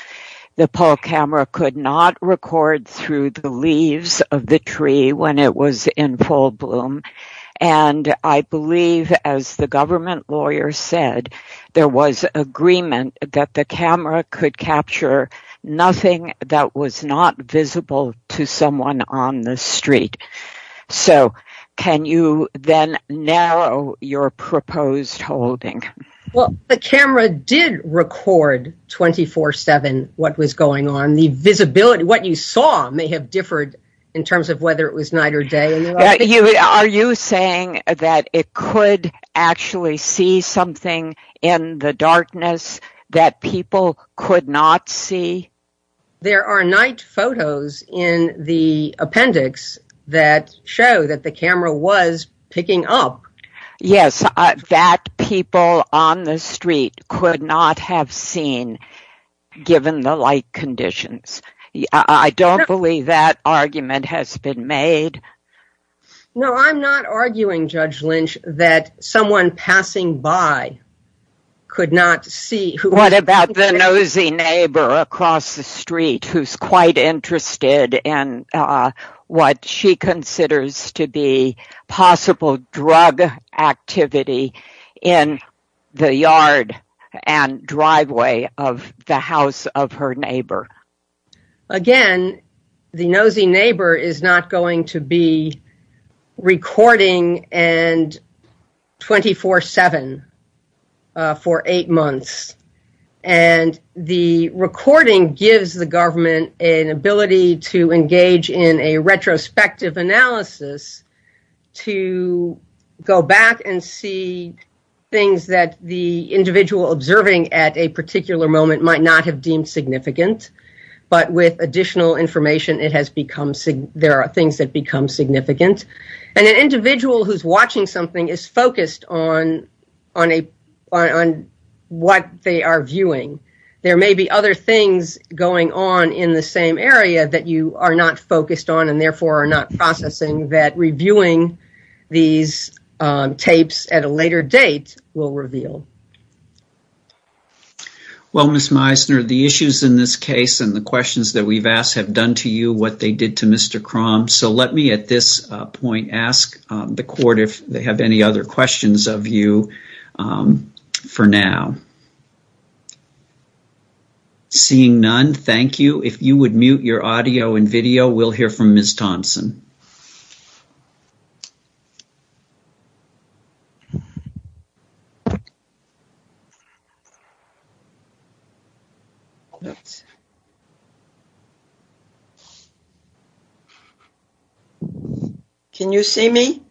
The poll camera could not record through the leaves of the tree when it was in full bloom, and I believe, as the government lawyer said, there was agreement that the camera could to someone on the street. So, can you then narrow your proposed holding? Well, the camera did record 24-7 what was going on. The visibility, what you saw, may have differed in terms of whether it was night or day. Are you saying that it could actually see something in the darkness that people could not see? There are night photos in the appendix that show that the camera was picking up. Yes, that people on the street could not have seen, given the light conditions. I don't believe that argument has been made. No, I'm not arguing, Judge Lynch, that someone passing by could not see. What about the nosy neighbor across the street who's quite interested in what she considers to be possible drug activity in the yard and driveway of the house of her neighbor? Again, the nosy neighbor is not going to be recording 24-7 for eight months. And the recording gives the government an ability to engage in a retrospective analysis to go back and see things that the individual observing at a particular moment might not have deemed significant. But with additional information, there are things that become significant. And an individual who's watching something is focused on what they are viewing. There may be other things going on in the same area that you are not focused on and therefore are not processing that reviewing these tapes at a later date will reveal. Well, Ms. Meisner, the issues in this case and the questions that we've asked have done to you what they did to Mr. Cromm. So let me at this point ask the court if they have any other questions of you for now. Seeing none, thank you. If you would mute your audio and video, we'll hear from Ms. Thompson. Can you see me?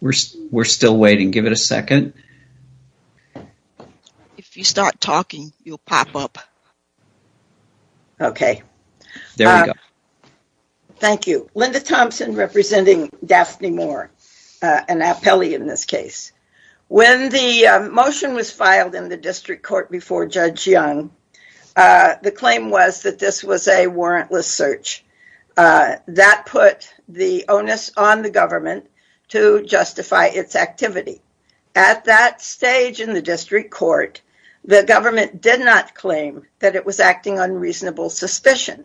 We're still waiting. Give it a second. If you start talking, you'll pop up. Okay. Thank you. Linda Thompson representing Daphne Moore, an appellee in this case. When the motion was filed in the district court before Judge Young, the claim was that this was a warrantless search. That put the onus on the government to justify its activity. At that stage in the district court, the government did not claim that it was acting on reasonable suspicion.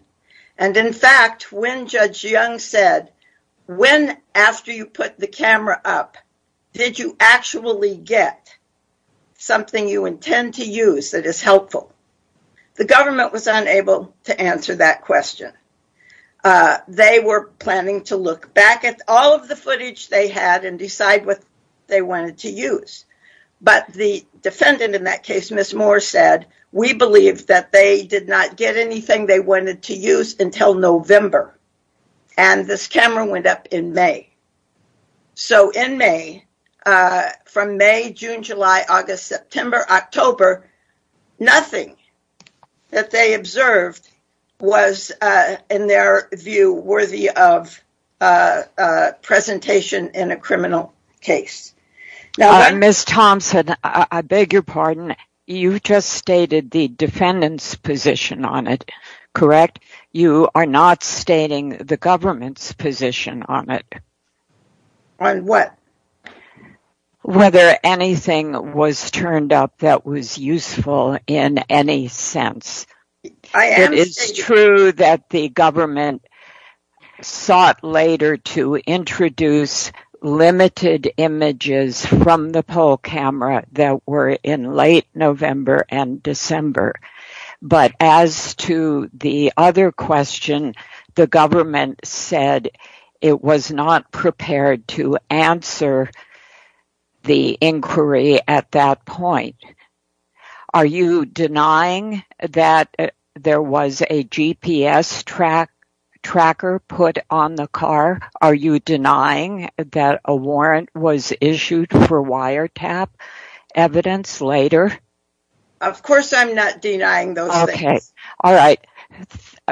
And in fact, when Judge Young said, when after you put the camera up, did you actually get something you intend to use that is helpful? The government was unable to answer that question. They were planning to look back at all of the footage they had and decide what they wanted to use. But the defendant in that case, Ms. Moore, said, we believe that they did not get anything they wanted to use until November. And this camera went up in May. So in May, from May, June, July, August, September, October, nothing that they observed was, in their view, worthy of presentation in a criminal case. Ms. Thompson, I beg your pardon. You just stated the defendant's position on it, correct? You are not stating the government's position on it. On what? Whether anything was turned up that was useful in any sense. It is true that the government sought later to introduce limited images from the poll camera that were in late November and December. But as to the other question, the government said it was not prepared to answer the inquiry at that point. Are you denying that there was a GPS tracker put on the car? Are you denying that a warrant was issued for wiretap evidence later? Of course I'm not denying those things. Okay. All right.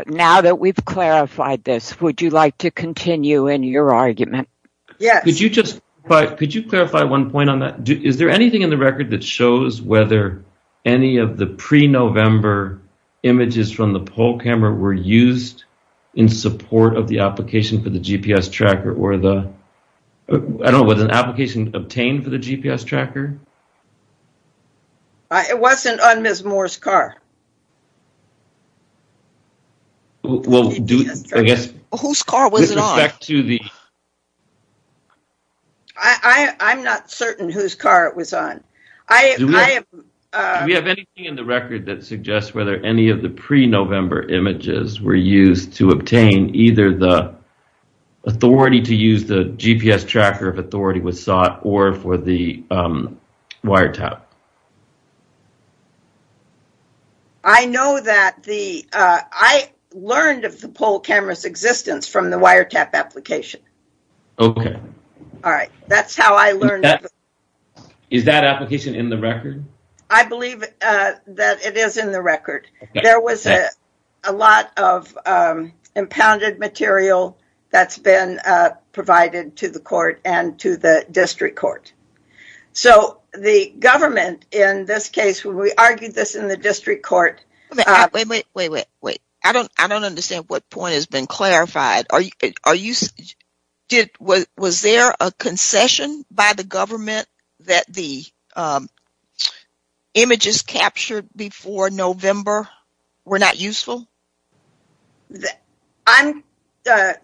Now that we've clarified this, would you like to continue in your argument? Yes. Could you just, could you clarify one point on that? Is there anything in the record that shows whether any of the pre-November images from the poll camera were used in support of the application for the GPS tracker or the, I don't know, was an application obtained for the GPS tracker? It wasn't on Ms. Moore's car. Well, do you, I guess. Whose car was it on? I'm not certain whose car it was on. Do we have anything in the record that suggests whether any of the pre-November images were used to obtain either the authority to use the GPS tracker of authority was sought or for the wiretap? I know that the, I learned of the poll camera's existence from the wiretap application. Okay. All right. That's how I learned. Is that application in the record? I believe that it is in the record. There was a lot of impounded material that's been provided to the court and to the district court. So the government in this case, we argued this in the district court. Wait, wait, wait, wait, wait. I don't understand what point has been clarified. Was there a concession by the government that the images captured before November were not useful? I'm,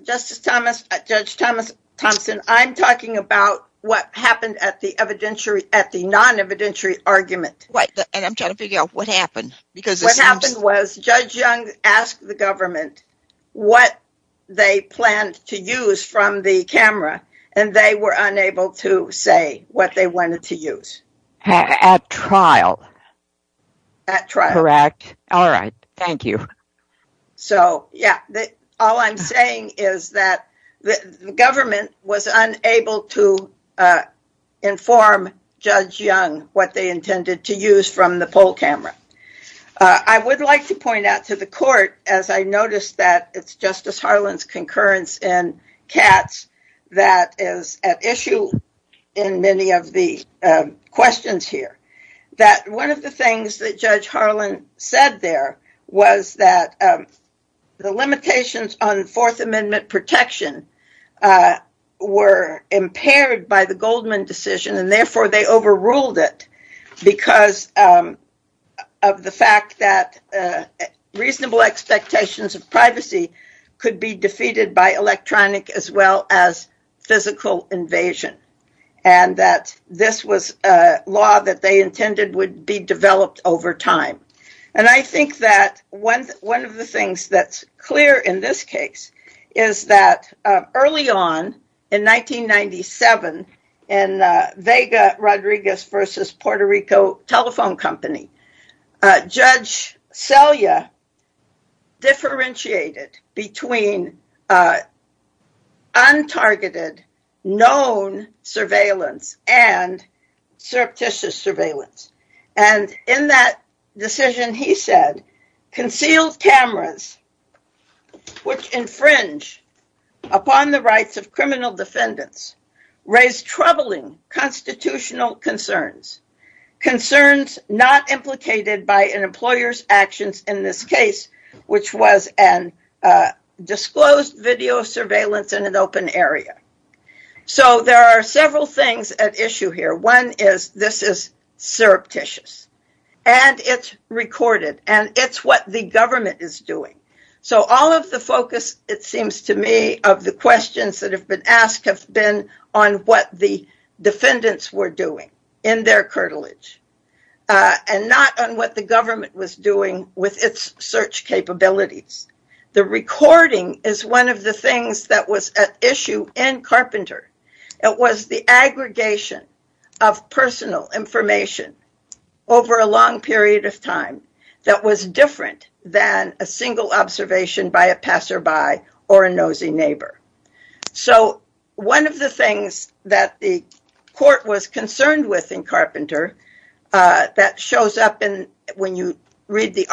Justice Thomas, Judge Thomas Thompson, I'm talking about what happened at the evidentiary, at the non-evidentiary argument. Right. And I'm trying to figure out what happened. What happened was Judge Young asked the government what they planned to use from the camera, and they were unable to say what they wanted to use. At trial. At trial. Correct. All right. Thank you. So, yeah, all I'm saying is that the government was unable to inform Judge Young what they intended to use from the poll camera. I would like to point out to the court, as I noticed that it's Justice Harlan's concurrence in Katz that is at issue in many of the questions here, that one of the things that Judge the limitations on Fourth Amendment protection were impaired by the Goldman decision and therefore they overruled it because of the fact that reasonable expectations of privacy could be defeated by electronic as well as physical invasion. And that this was a law that they intended would be developed over time. And I think that one of the things that's clear in this case is that early on in 1997 in Vega Rodriguez versus Puerto Rico Telephone Company, Judge Selya differentiated between untargeted known surveillance and surreptitious surveillance. And in that decision, he said, concealed cameras which infringe upon the rights of criminal defendants raise troubling constitutional concerns, concerns not implicated by an employer's actions in this case, which was a disclosed video surveillance in an open area. So there are several things at issue here. One is this is surreptitious and it's recorded and it's what the government is doing. So all of the focus, it seems to me, of the questions that have been asked have been on what the defendants were doing in their cartilage and not on what the government was doing with its search capabilities. The recording is one of the things that was at issue in Carpenter. It was the aggregation of personal information over a long period of time that was different than a single observation by a passerby or a nosy neighbor. So one of the things that the court was concerned with in Carpenter that shows up when you read the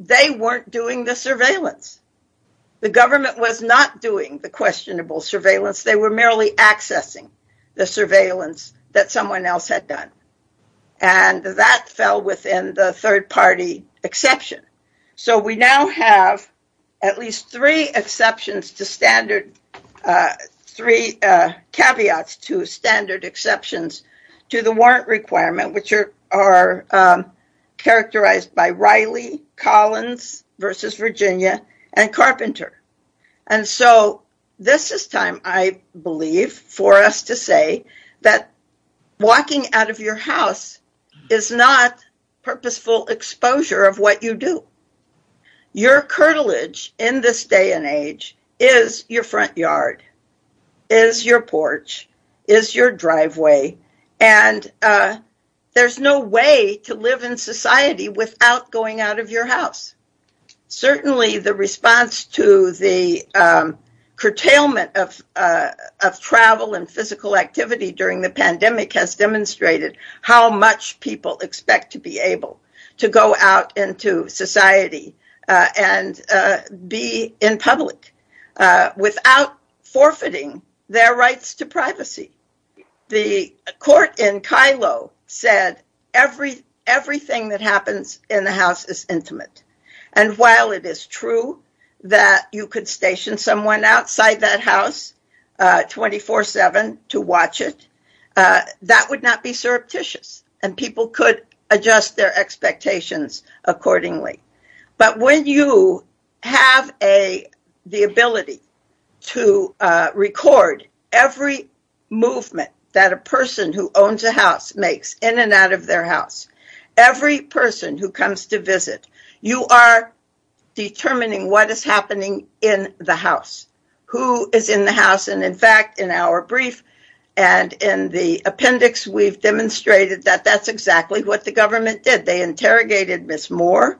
they weren't doing the surveillance. The government was not doing the questionable surveillance. They were merely accessing the surveillance that someone else had done. And that fell within the third party exception. So we now have at least three exceptions to standard, three caveats to standard exceptions to the warrant requirement, which are characterized by Riley, Collins v. Virginia, and Carpenter. And so this is time, I believe, for us to say that walking out of your house is not purposeful exposure of what you do. Your cartilage in this day and age is your front yard, is your porch, is your driveway, and there's no way to live in society without going out of your house. Certainly the response to the curtailment of travel and physical activity during the pandemic has demonstrated how much people expect to be able to go out into society and be in public without forfeiting their rights to privacy. The court in Kilo said everything that happens in the house is intimate. And while it is true that you could station someone outside that house 24-7 to watch it, that would not be surreptitious, and people could adjust their expectations accordingly. But when you have the ability to record every movement that a person who owns a house makes in and out of their house, every person who comes to visit, you are determining what is happening in the house, who is in the house. In fact, in our brief and in the appendix, we've demonstrated that that's exactly what the government did. They interrogated Ms. Moore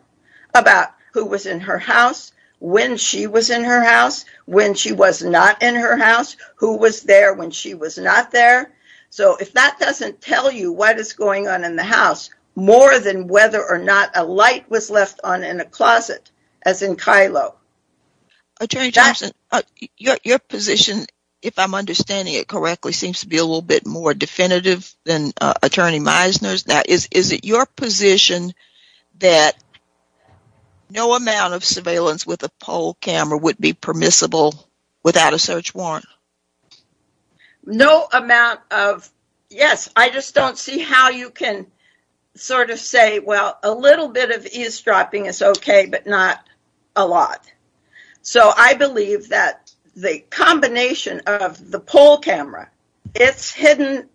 about who was in her house, when she was in her house, when she was not in her house, who was there when she was not there. So if that doesn't tell you what is going on in the house, more than whether or not a light was left on in a closet, as in Kilo. Attorney Johnson, your position, if I'm understanding it correctly, seems to be a little bit more definitive than Attorney Meisner's. Is it your position that no amount of surveillance with a poll camera would be permissible without a search warrant? No amount of, yes. I just don't see how you can sort of say, well, a little bit of eavesdropping is okay, but not a lot. So I believe that the combination of the poll camera, its hidden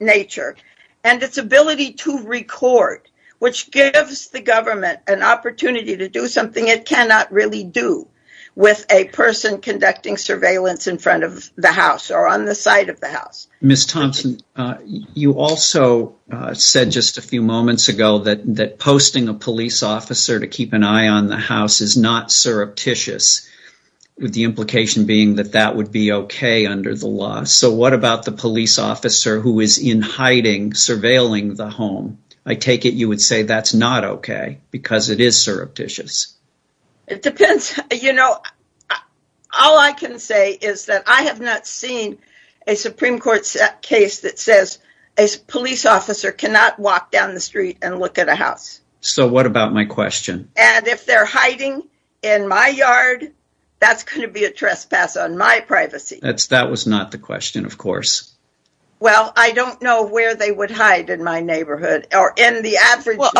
nature, and its ability to record, which gives the government an opportunity to do something it cannot really do with a person conducting surveillance in front of the house or on the side of the house. Ms. Thompson, you also said just a few moments ago that posting a police officer to keep an eye on the house is not surreptitious, with the implication being that that would be okay under the law. So what about the police officer who is in hiding, surveilling the home? I take it you would say that's not okay, because it is surreptitious. It depends. You know, all I can say is that I have not seen a Supreme Court case that says a police officer cannot walk down the street and look at a house. So what about my question? And if they're hiding in my yard, that's going to be a trespass on my privacy. That was not the question, of course. Well, I don't know where they would hide in my neighborhood or in the average... Well,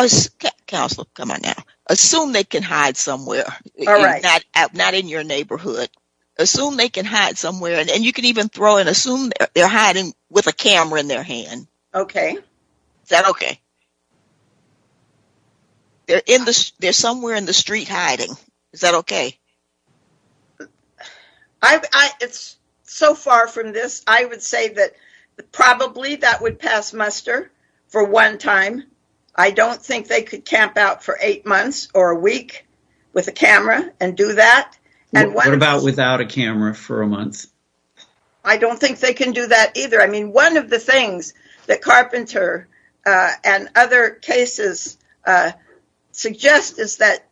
counsel, come on now. Assume they can hide somewhere. All right. Not in your neighborhood. Assume they can hide somewhere, and you can even throw and assume they're hiding with a camera in their hand. Okay. Is that okay? They're somewhere in the street hiding. Is that okay? So far from this, I would say that probably that would pass muster for one time. I don't think they could camp out for eight months or a week with a camera and do that. What about without a camera for a month? I don't think they can do that either. I mean, one of the things that Carpenter and other cases suggest is that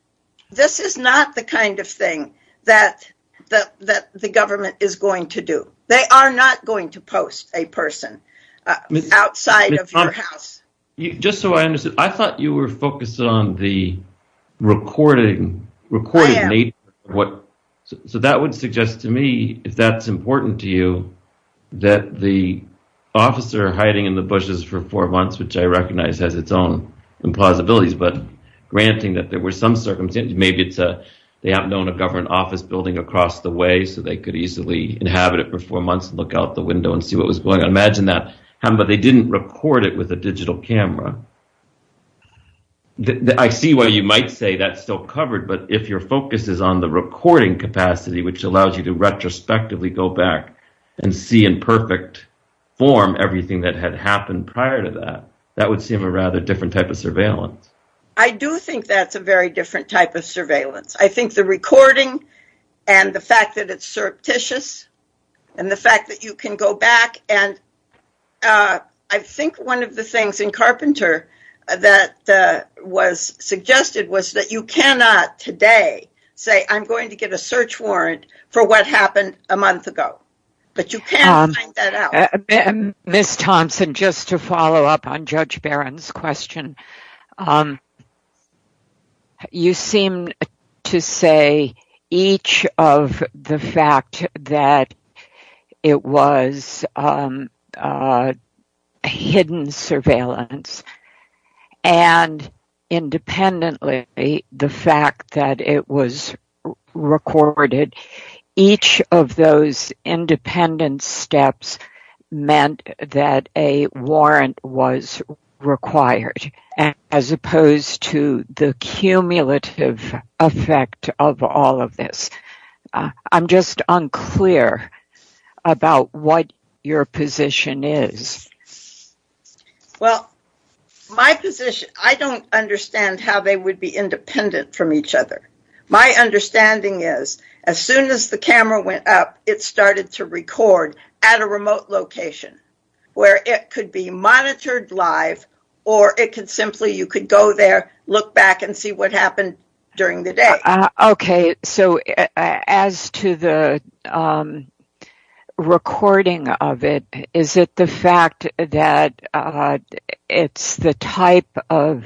this is not the kind of thing that the government is going to do. They are not going to post a person outside of your house. Just so I understand, I thought you were focused on the recording. So that would suggest to me, if that's important to you, that the officer hiding in the bushes for four months, which I recognize has its own plausibilities, but granting that there were some circumstances, maybe they happen to own a government office building across the way, so they could easily inhabit it for four months and look out the window and see what was going on. But they didn't record it with a digital camera. I see why you might say that's still covered. But if your focus is on the recording capacity, which allows you to retrospectively go back and see in perfect form everything that had happened prior to that, that would seem a rather different type of surveillance. I do think that's a very different type of surveillance. I think the recording and the fact that it's surreptitious and the fact that you can go back and I think one of the things in Carpenter that was suggested was that you cannot today say, I'm going to get a search warrant for what happened a month ago. But you can't find that out. Ms. Thompson, just to follow up on Judge Barron's question, you seem to say each of the fact that it was hidden surveillance and independently the fact that it was recorded, each of those independent steps meant that a warrant was required as opposed to the cumulative effect of all of this. I'm just unclear about what your position is. Well, my position, I don't understand how they would be independent from each other. My understanding is as soon as the camera went up, it started to record at a remote location where it could be monitored live or it could simply you could go there, look back and see what happened during the day. Okay. So as to the recording of it, is it the fact that it's the type of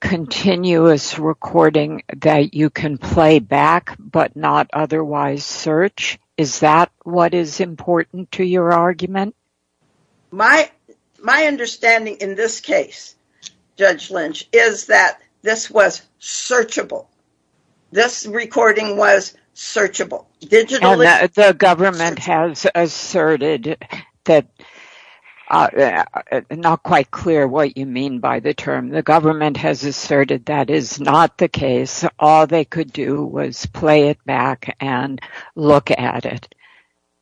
continuous recording that you can play back but not otherwise search? Is that what is important to your argument? My understanding in this case, Judge Lynch, is that this was searchable. This recording was searchable. The government has asserted that, not quite clear what you mean by the term, the government has asserted that is not the case. All they could do was play it back and look at it.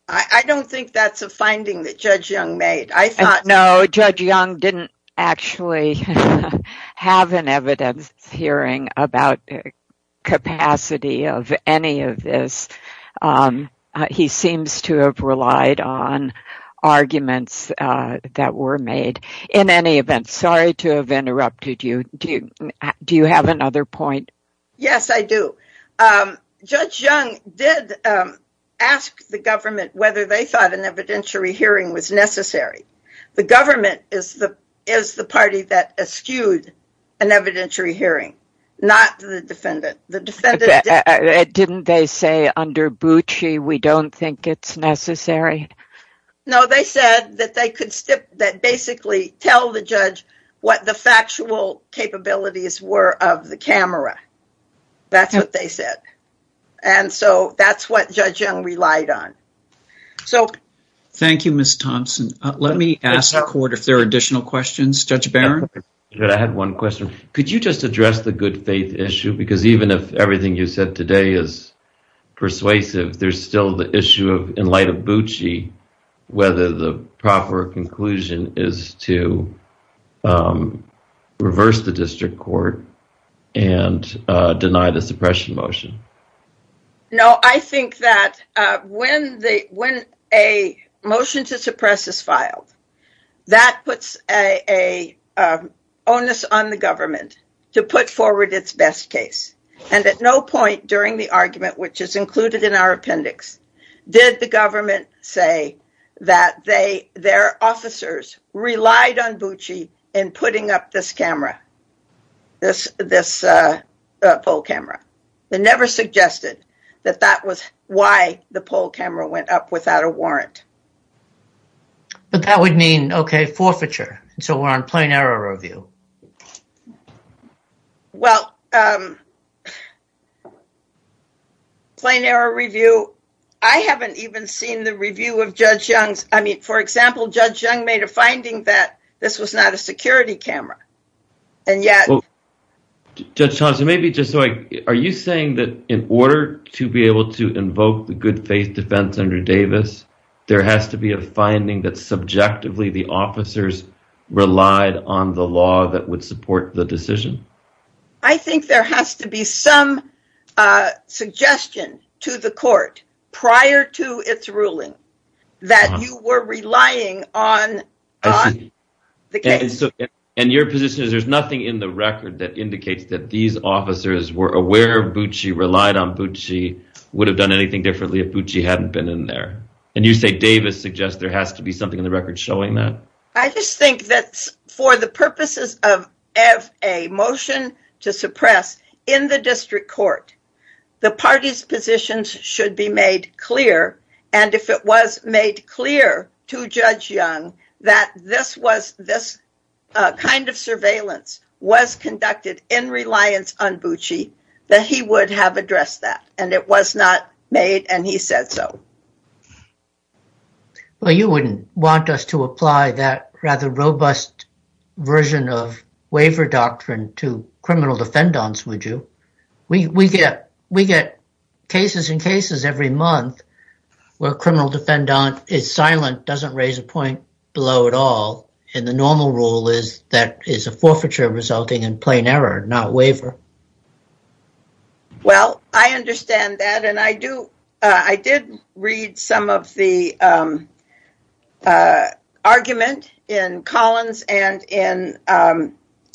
I don't think that's a finding that Judge Young made. I thought... No, Judge Young didn't actually have an evidence hearing about the capacity of any of this. He seems to have relied on arguments that were made. In any event, sorry to have interrupted you. Do you have another point? Yes, I do. Judge Young did ask the government whether they thought an evidentiary hearing was necessary. The government is the party that eschewed an evidentiary hearing, not the defendant. Didn't they say under Bucci, we don't think it's necessary? No, they said that they could basically tell the judge what the factual capabilities were of the camera. That's what they said. That's what Judge Young relied on. Thank you, Ms. Thompson. Let me ask the court if there are additional questions. Judge Barron? I had one question. Could you just address the good faith issue? Even if everything you said today is persuasive, there's still the issue in light of Bucci, whether the proper conclusion is to reverse the district court. Deny the suppression motion. I think that when a motion to suppress is filed, that puts an onus on the government to put forward its best case. At no point during the argument, which is included in our appendix, did the government say that their officers relied on Bucci in putting up this camera, this poll camera. They never suggested that that was why the poll camera went up without a warrant. But that would mean, okay, forfeiture. So we're on plain error review. Well, plain error review, I haven't even seen the review of Judge Young's. I mean, for example, Judge Young made a finding that this was not a security camera, and yet. Judge Thompson, maybe just like, are you saying that in order to be able to invoke the good faith defense under Davis, there has to be a finding that subjectively the officers relied on the law that would support the decision? I think there has to be some suggestion to the court prior to its ruling that you were relying on the case. And your position is there's nothing in the record that indicates that these officers were aware Bucci, relied on Bucci, would have done anything differently if Bucci hadn't been in there. And you say Davis suggests there has to be something in the record showing that. I just think that for the purposes of a motion to suppress in the district court, the party's positions should be made clear. And if it was made clear to Judge Young that this kind of surveillance was conducted in reliance on Bucci, that he would have addressed that. And it was not made, and he said so. Well, you wouldn't want us to apply that rather robust version of waiver doctrine to criminal defendants, would you? We get cases and cases every month where a criminal defendant is silent, doesn't raise a point below at all. And the normal rule is that is a forfeiture resulting in plain error, not waiver. Well, I understand that. I did read some of the argument in Collins and in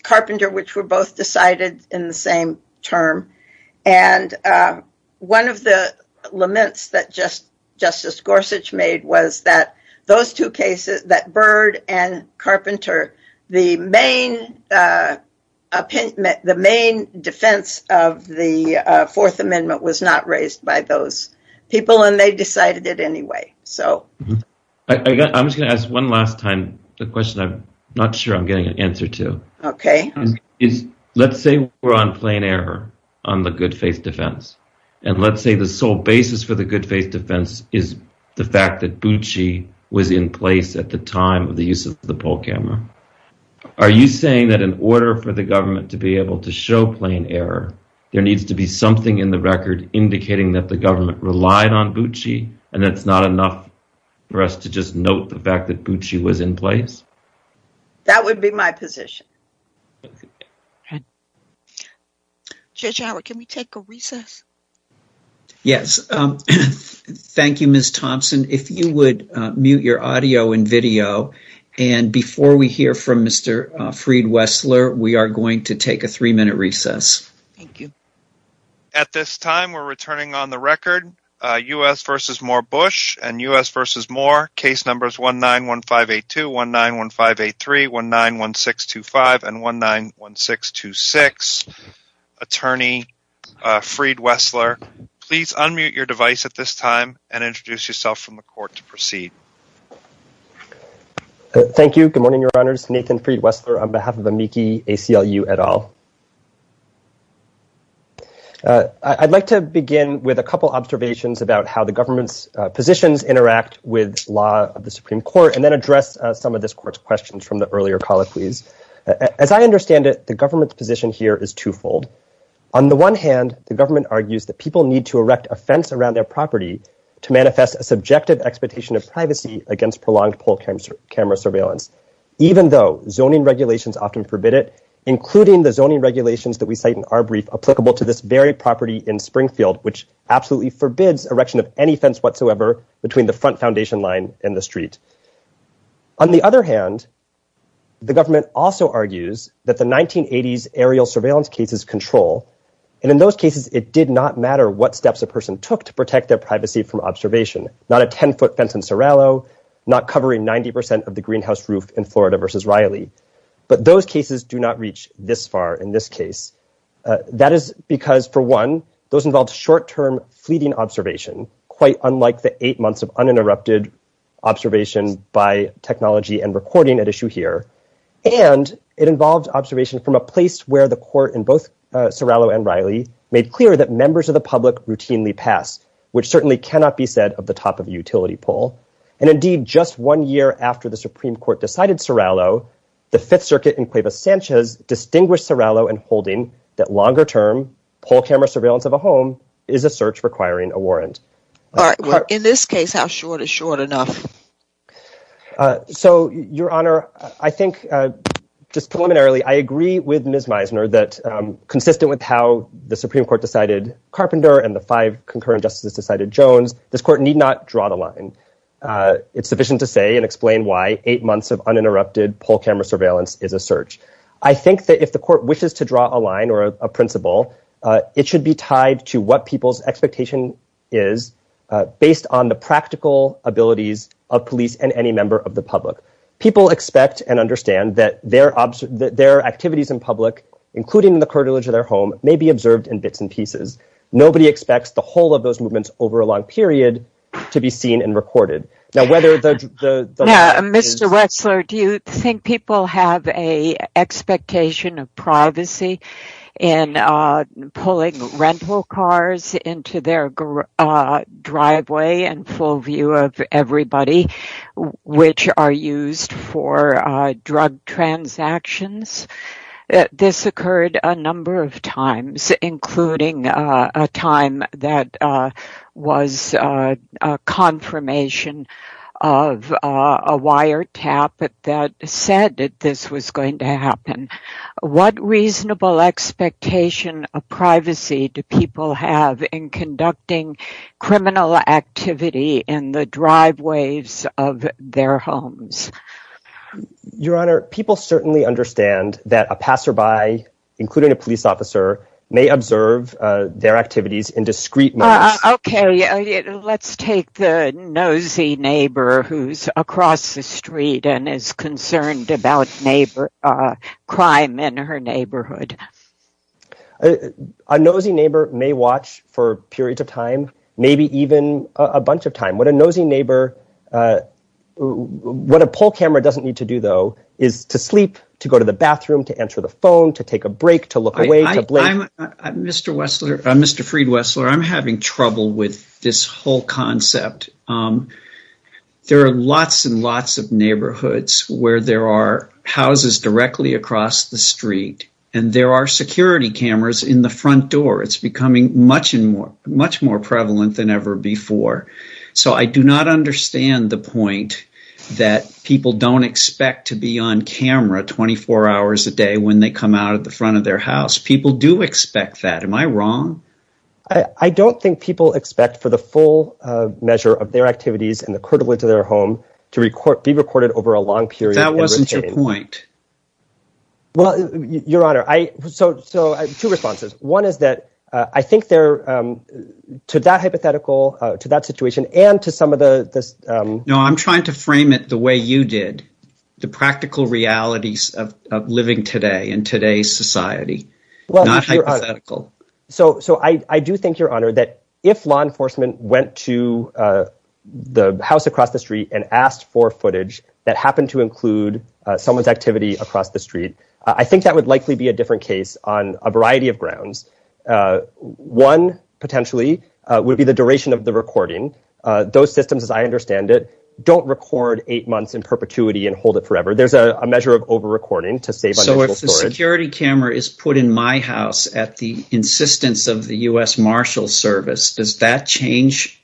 Carpenter, which were both decided in the same term. And one of the laments that Justice Gorsuch made was that those two cases, that Byrd and Byrd, were both decided by those people, and they decided it anyway. I'm just going to ask one last time a question I'm not sure I'm getting an answer to. Let's say we're on plain error on the good faith defense, and let's say the sole basis for the good faith defense is the fact that Bucci was in place at the time of the use of the poll camera. Are you saying that in order for the government to be able to show plain error, there needs to be something in the record indicating that the government relied on Bucci, and it's not enough for us to just note the fact that Bucci was in place? That would be my position. Judge Howard, can we take a recess? Yes. Thank you, Ms. Thompson. If you would mute your audio and video, and before we hear from Mr. Freed-Wessler, we are going to take a three-minute recess. Thank you. At this time, we're returning on the record. U.S. v. Moore Bush and U.S. v. Moore. Case numbers 191582, 191583, 191625, and 191626. Attorney Freed-Wessler, please unmute your device at this time and introduce yourself from the court to proceed. Thank you. Good morning, Your Honors. Nathan Freed-Wessler on behalf of Amici ACLU et al. I'd like to begin with a couple observations about how the government's positions interact with law of the Supreme Court, and then address some of this court's questions from the earlier colleges. As I understand it, the government's position here is twofold. On the one hand, the government argues that people need to erect a fence around their property to manifest a subjective expectation of privacy against prolonged poll camera surveillance. Even though zoning regulations often forbid it, including the zoning regulations that we cite in our brief applicable to this very property in Springfield, which absolutely forbids erection of any fence whatsoever between the front foundation line and the street. On the other hand, the government also argues that the 1980s aerial surveillance cases control, and in those cases, it did not matter what steps a person took to protect their privacy from observation. Not a 10-foot fence in Sorrello, not covering 90% of the greenhouse roof in Florida v. Riley. But those cases do not reach this far in this case. That is because for one, those involved short-term fleeting observation, quite unlike the eight months of uninterrupted observation by technology and recording at issue here. And it involves observation from a place where the court in both Sorrello and Riley made clear that members of the public routinely pass, which certainly cannot be said of the top of the utility pole. And indeed, just one year after the Supreme Court decided Sorrello, the Fifth Circuit in Cuevas-Sanchez distinguished Sorrello in holding that longer-term pole camera surveillance of a home is a search requiring a warrant. All right. In this case, how short is short enough? So, Your Honor, I think just preliminarily, I agree with Ms. Meisner that consistent with how the Supreme Court decided Carpenter and the five concurrent justices decided Jones, this court need not draw the line. It's sufficient to say and explain why eight months of uninterrupted pole camera surveillance is a search. I think that if the court wishes to draw a line or a principle, it should be tied to what people's expectation is based on the practical abilities of police and any member of the public. People expect and understand that their activities in public, including the curtilage of their home, may be observed in bits and pieces. Nobody expects the whole of those movements over a long period to be seen and recorded. Now, whether the... Now, Mr. Westler, do you think people have an expectation of privacy in pulling rental cars into their driveway in full view of everybody, which are used for drug transactions? This occurred a number of times, including a time that was a confirmation of a wiretap that said that this was going to happen. What reasonable expectation of privacy do people have in conducting criminal activity in the driveways of their homes? Your Honor, people certainly understand that a passerby, including a police officer, may observe their activities in discreet manner. Okay, let's take the nosy neighbor who's across the street and is concerned about crime in her neighborhood. A nosy neighbor may watch for a period of time, maybe even a bunch of time. What a nosy neighbor... What a poll camera doesn't need to do, though, is to sleep, to go to the bathroom, to answer the phone, to take a break, to look away. Mr. Westler, Mr. Freed-Westler, I'm having trouble with this whole concept. There are lots and lots of neighborhoods where there are houses directly across the street, and there are security cameras in the front door. It's becoming much more prevalent than ever before. So I do not understand the point that people don't expect to be on camera 24 hours a day when they come out of the front of their house. People do expect that. Am I wrong? I don't think people expect for the full measure of their activities in the courtyards of their home to be recorded over a long period of time. That wasn't your point. Well, Your Honor, I... So, two responses. One is that I think they're, to that hypothetical, to that situation, and to some of the... No, I'm trying to frame it the way you did, the practical realities of living today in today's society, not hypothetical. So I do think, Your Honor, that if law enforcement went to the house across the street and asked for footage that happened to include someone's activity across the street, I think that would likely be a different case on a variety of grounds. One, potentially, would be the duration of the recording. Those systems, as I understand it, don't record eight months in perpetuity and hold it forever. There's a measure of over-recording to save... So if the security camera is put in my house at the insistence of the U.S. Marshals Service, does that change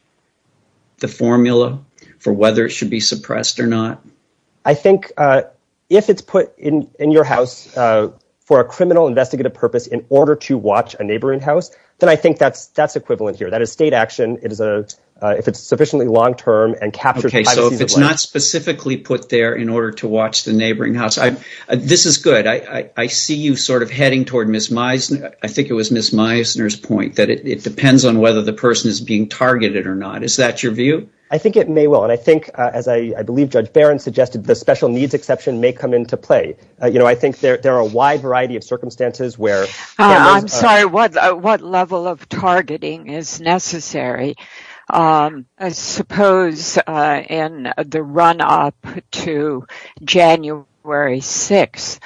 the formula for whether it should be suppressed or not? I think if it's put in your house for a criminal investigative purpose in order to watch a neighboring house, then I think that's equivalent here. That is state action, if it's sufficiently long-term and captures... Okay, so if it's not specifically put there in order to watch the neighboring house... This is good. I see you sort of heading toward Ms. Meisner... I think it was Ms. Meisner's point that it depends on whether the person is being targeted or not. Is that your view? I think it may well. As I believe Judge Barron suggested, the special needs exception may come into play. I think there are a wide variety of circumstances where... I'm sorry, what level of targeting is necessary? I suppose in the run-up to January 6th,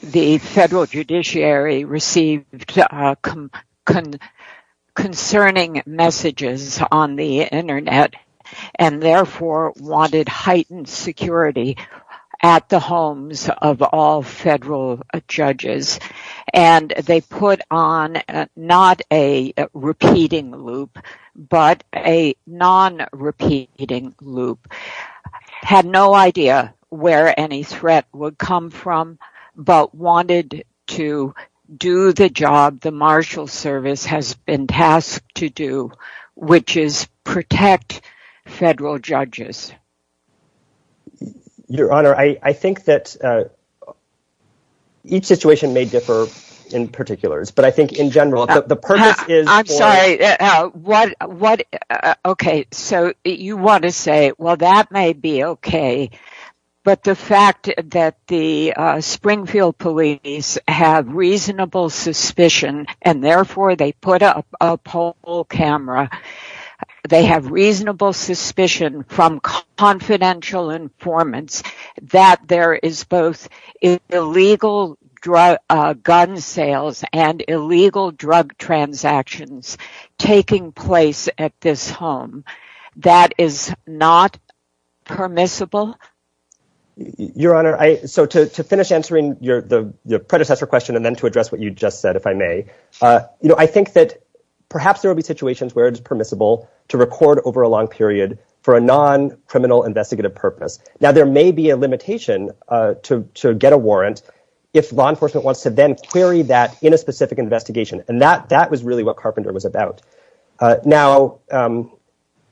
the federal judiciary received concerning messages on the internet and therefore wanted heightened security at the homes of all federal judges. They put on not a repeating loop, but a non-repeating loop. They had no idea where any threat would come from, but wanted to do the job the Marshall Service has been tasked to do, which is protect federal judges. Your Honor, I think that each situation may differ in particulars, but I think in general, the purpose is... I'm sorry. Okay, so you want to say, well, that may be okay, but the fact that the Springfield Police have reasonable suspicion and therefore they put up a pole camera, they have reasonable suspicion from confidential informants that there is both illegal gun sales and illegal drug transactions taking place at this home, that is not permissible? Your Honor, so to finish answering your predecessor question and then to address what you just said, if I may, I think that perhaps there will be situations where it is permissible to record over a long period for a non-criminal investigative purpose. Now, there may be a limitation to get a warrant if law enforcement wants to then query that in a specific investigation, and that was really what Carpenter was about. Now,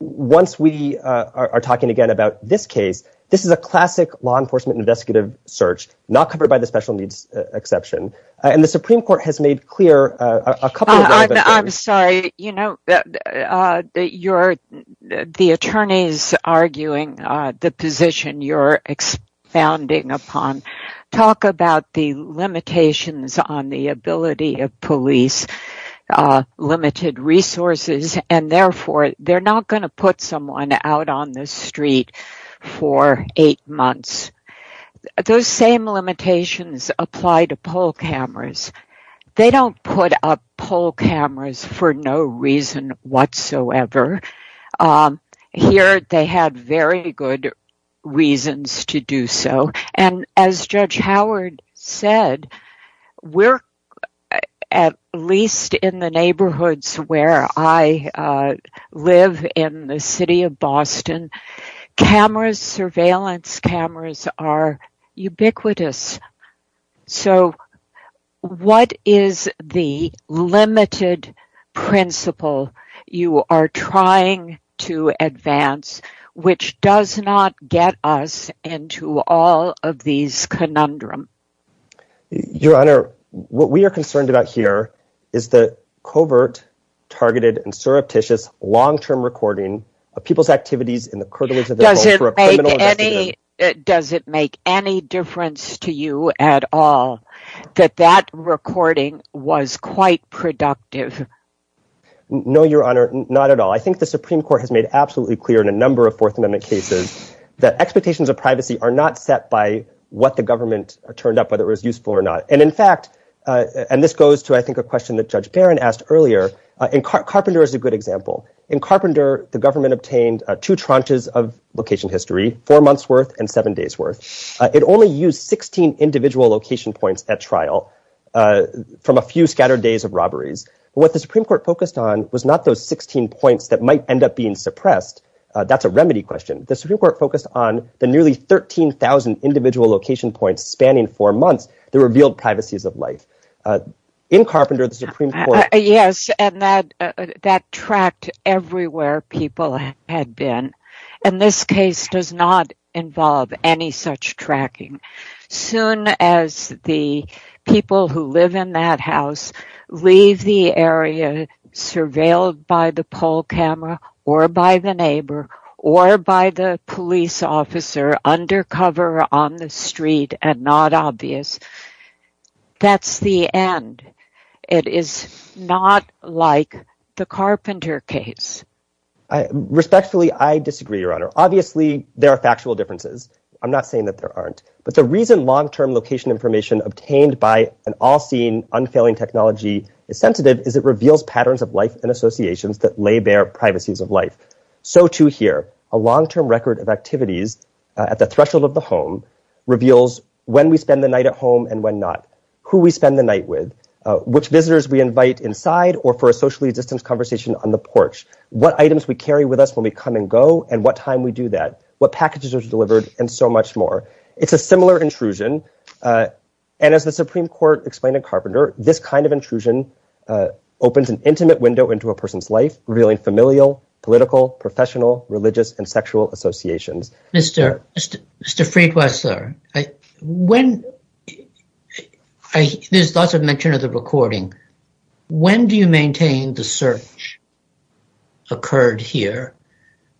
once we are talking again about this case, this is a classic law enforcement investigative search, not covered by the special needs exception, and the Supreme Court has made clear a couple of... I'm sorry. The attorney is arguing the position you're expounding upon. Talk about the limitations on the ability of police, limited resources, and therefore they're not going to put someone out on the street for eight months. Those same limitations apply to pole cameras. They don't put up pole cameras for no reason whatsoever. Here, they have very good reasons to do so, and as Judge Howard said, we're, at least in the neighborhoods where I live in the city of Boston, surveillance cameras are ubiquitous. So what is the limited principle you are trying to advance, which does not get us into all of these conundrums? Your Honor, what we are concerned about here is the covert, targeted, and surreptitious long-term recording of people's activities in the criminal... Does it make any difference to you at all that that recording was quite productive? No, Your Honor, not at all. I think the Supreme Court has made absolutely clear in a number of Fourth Amendment cases that expectations of privacy are not set by what the government turned up, whether it was useful or not. And in fact, and this goes to, I think, a question that Judge Barron asked earlier, Carpenter is a good example. In Carpenter, the government obtained two tranches of location history, four months' worth and seven days' worth. It only used 16 individual location points at trial from a few scattered days of robberies. What the Supreme Court focused on was not those 16 points that might end up being suppressed. That's a remedy question. The Supreme Court focused on the nearly 13,000 individual location points spanning four months that revealed privacies of life. In Carpenter, the Supreme Court... Everywhere people had been. And this case does not involve any such tracking. Soon as the people who live in that house leave the area, surveilled by the poll camera or by the neighbor or by the police officer undercover on the street and not obvious, that's the end. It is not like the Carpenter case. Respectfully, I disagree, Your Honor. Obviously, there are factual differences. I'm not saying that there aren't. But the reason long-term location information obtained by an all-seeing, unfailing technology is sensitive is it reveals patterns of life and associations that lay bare privacies of life. So choose here. A long-term record of activities at the threshold of the home reveals when we spend the night at home and when not, who we spend the night with, which visitors we invite inside or for a socially distanced conversation on the porch, what items we carry with us when we come and go and what time we do that, what packages are delivered, and so much more. It's a similar intrusion. And as the Supreme Court explained in Carpenter, this kind of intrusion opens an intimate window into a person's life, revealing familial, political, professional, religious, and sexual associations. Mr. Friedweiser, there's lots of mention of the recording. When do you maintain the search occurred here?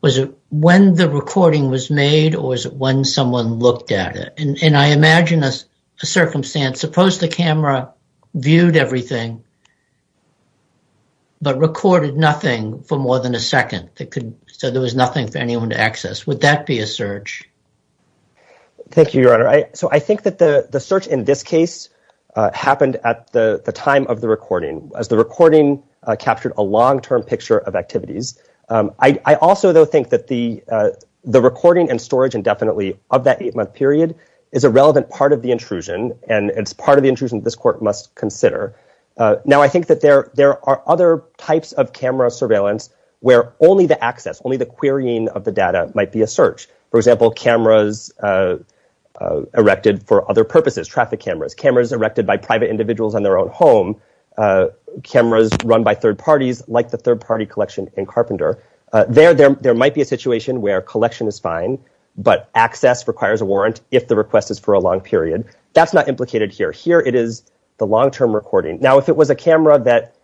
Was it when the recording was made or was it when someone looked at it? And I imagine a circumstance, suppose the camera viewed everything but recorded nothing for more than a second, so there was nothing for anyone to access. Would that be a search? Thank you, Your Honor. So I think that the search in this case happened at the time of the recording, as the recording captured a long-term picture of activities. I also, though, think that the recording and storage indefinitely of that eight-month period is a relevant part of the intrusion, and it's part of the intrusion this court must consider. Now, I think that there are other types of camera surveillance where only the access, of the data, might be a search. For example, cameras erected for other purposes, traffic cameras, cameras erected by private individuals in their own home, cameras run by third parties, like the third-party collection in Carpenter. There might be a situation where collection is fine, but access requires a warrant if the request is for a long period. That's not implicated here. Here it is the long-term recording. Now, if it was a camera that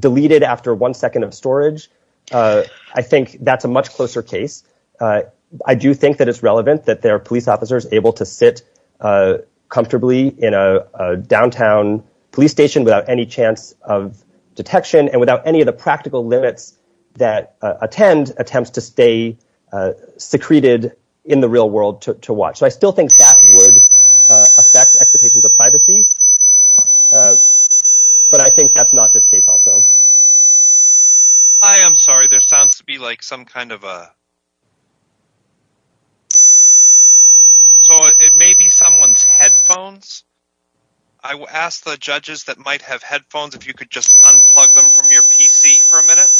deleted after one second of storage, I think that's a much closer case. I do think that it's relevant that there are police officers able to sit comfortably in a downtown police station without any chance of detection and without any of the practical limits that attend attempts to stay secreted in the real world to watch. So I still think that would affect expectations of privacy, but I think that's not this case also. Hi, I'm sorry. There sounds to be like some kind of a... So it may be someone's headphones. I will ask the judges that might have headphones if you could just unplug them from your PC for a minute.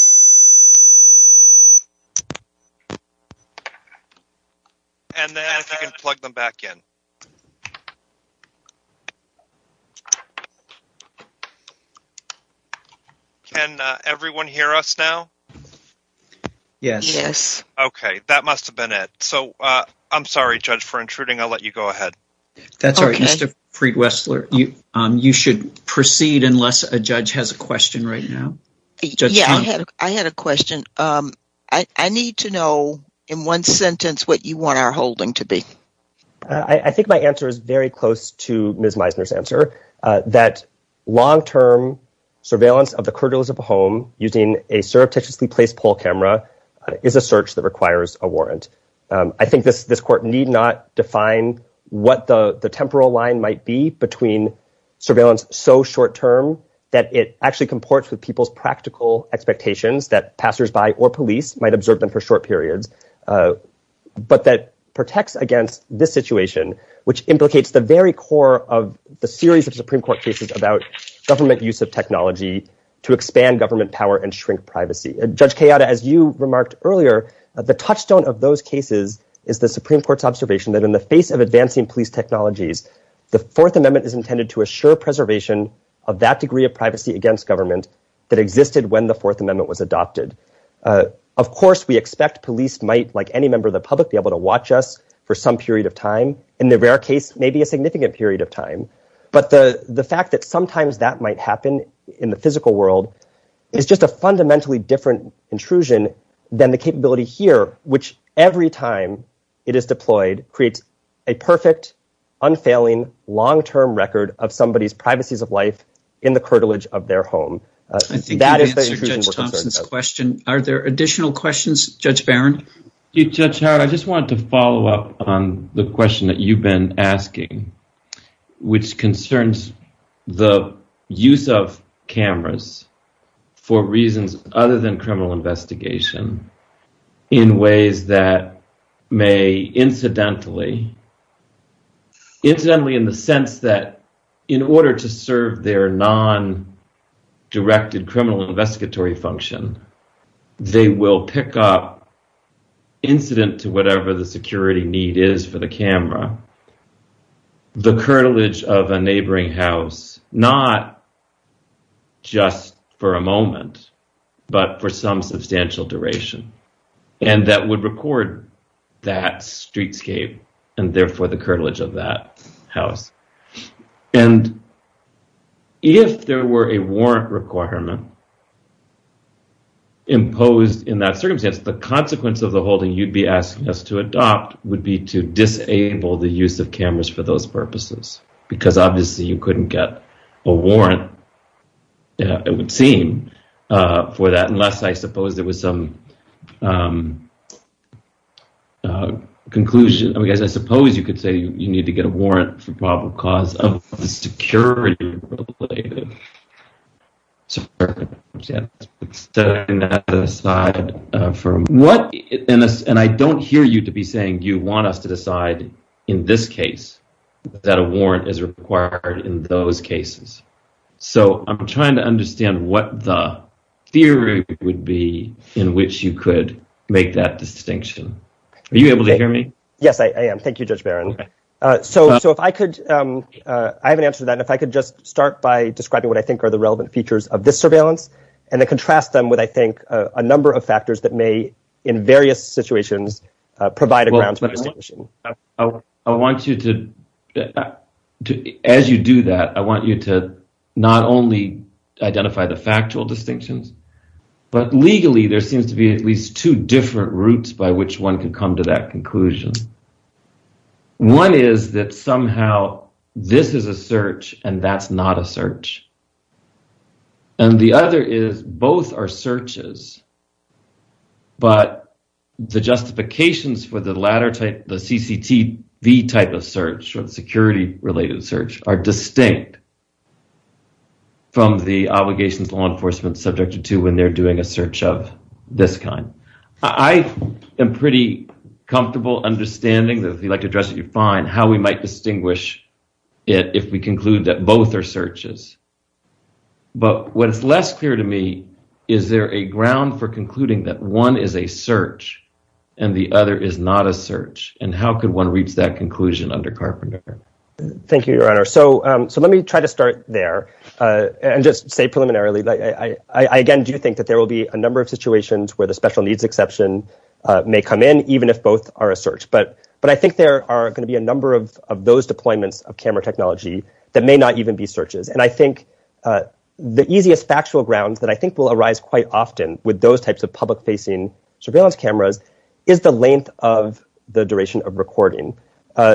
And then if you can plug them back in. Can everyone hear us now? Yes. Okay, that must have been it. So I'm sorry, Judge, for intruding. I'll let you go ahead. That's all right, Mr. Preet Wessler. You should proceed unless a judge has a question right now. I had a question. I need to know in one sentence what you want our holding to be. I think my answer is very close to Ms. Meisner's answer, that long-term surveillance of the camera is a search that requires a warrant. I think this court need not define what the temporal line might be between surveillance so short term that it actually comports with people's practical expectations that passersby or police might observe them for a short period, but that protects against this situation, which implicates the very core of the series of Supreme Court cases about government use of technology to expand government power and shrink privacy. Judge Kayada, as you remarked earlier, the touchstone of those cases is the Supreme Court's observation that in the face of advancing police technologies, the Fourth Amendment is intended to assure preservation of that degree of privacy against government that existed when the Fourth Amendment was adopted. Of course, we expect police might, like any member of the public, be able to watch us for some period of time, in the rare case, maybe a significant period of time. But the fact that sometimes that might happen in the physical world is just a fundamentally different intrusion than the capability here, which every time it is deployed, creates a perfect, unfailing, long-term record of somebody's privacies of life in the cartilage of their home. Are there additional questions, Judge Barron? Judge Howard, I just wanted to follow up on the question that you've been asking, which is, do you think that, rather than criminal investigation, in ways that may incidentally—incidentally in the sense that, in order to serve their non-directed criminal investigatory function, they will pick up, incident to whatever the security need is for the camera, the cartilage of a neighboring house, not just for a moment, but for some substantial duration, and that would record that streetscape and, therefore, the cartilage of that house? And if there were a warrant requirement imposed in that circumstance, the consequence of the use of cameras for those purposes? Because, obviously, you couldn't get a warrant, it would seem, for that, unless, I suppose, there was some conclusion. I mean, I suppose you could say you need to get a warrant for probable cause of a security related. And I don't hear you to be saying you want us to decide, in this case, that a warrant is required in those cases. So I'm trying to understand what the theory would be in which you could make that distinction. Are you able to hear me? Yes, I am. Thank you, Judge Barron. So if I could, I have an answer to that. If I could just start by describing what I think are the relevant features of this surveillance and then contrast them with, I think, a number of factors that may, in various situations, provide a grounds for distinction. I want you to, as you do that, I want you to not only identify the factual distinctions, but legally there seems to be at least two different routes by which one can come to that conclusion. One is that somehow this is a search and that's not a search. And the other is both are searches, but the justifications for the latter type, the CCTV type of search, or security related search, are distinct from the obligations law enforcement is subjected to when they're doing a search of this kind. I am pretty comfortable understanding, if you'd like to address it, you're fine, how we might distinguish it if we conclude that both are searches. But what is less clear to me, is there a ground for concluding that one is a search and the other is not a search? And how could one reach that conclusion under Carpenter? Thank you, Your Honor. So let me try to start there and just say preliminarily, I, again, do think that there will be a number of situations where the special needs exception may come in, even if both are a search. But I think there are going to be a number of those deployments of camera technology that may not even be searches. And I think the easiest factual grounds that I think will arise quite often with those types of public facing surveillance cameras is the length of the duration of recording.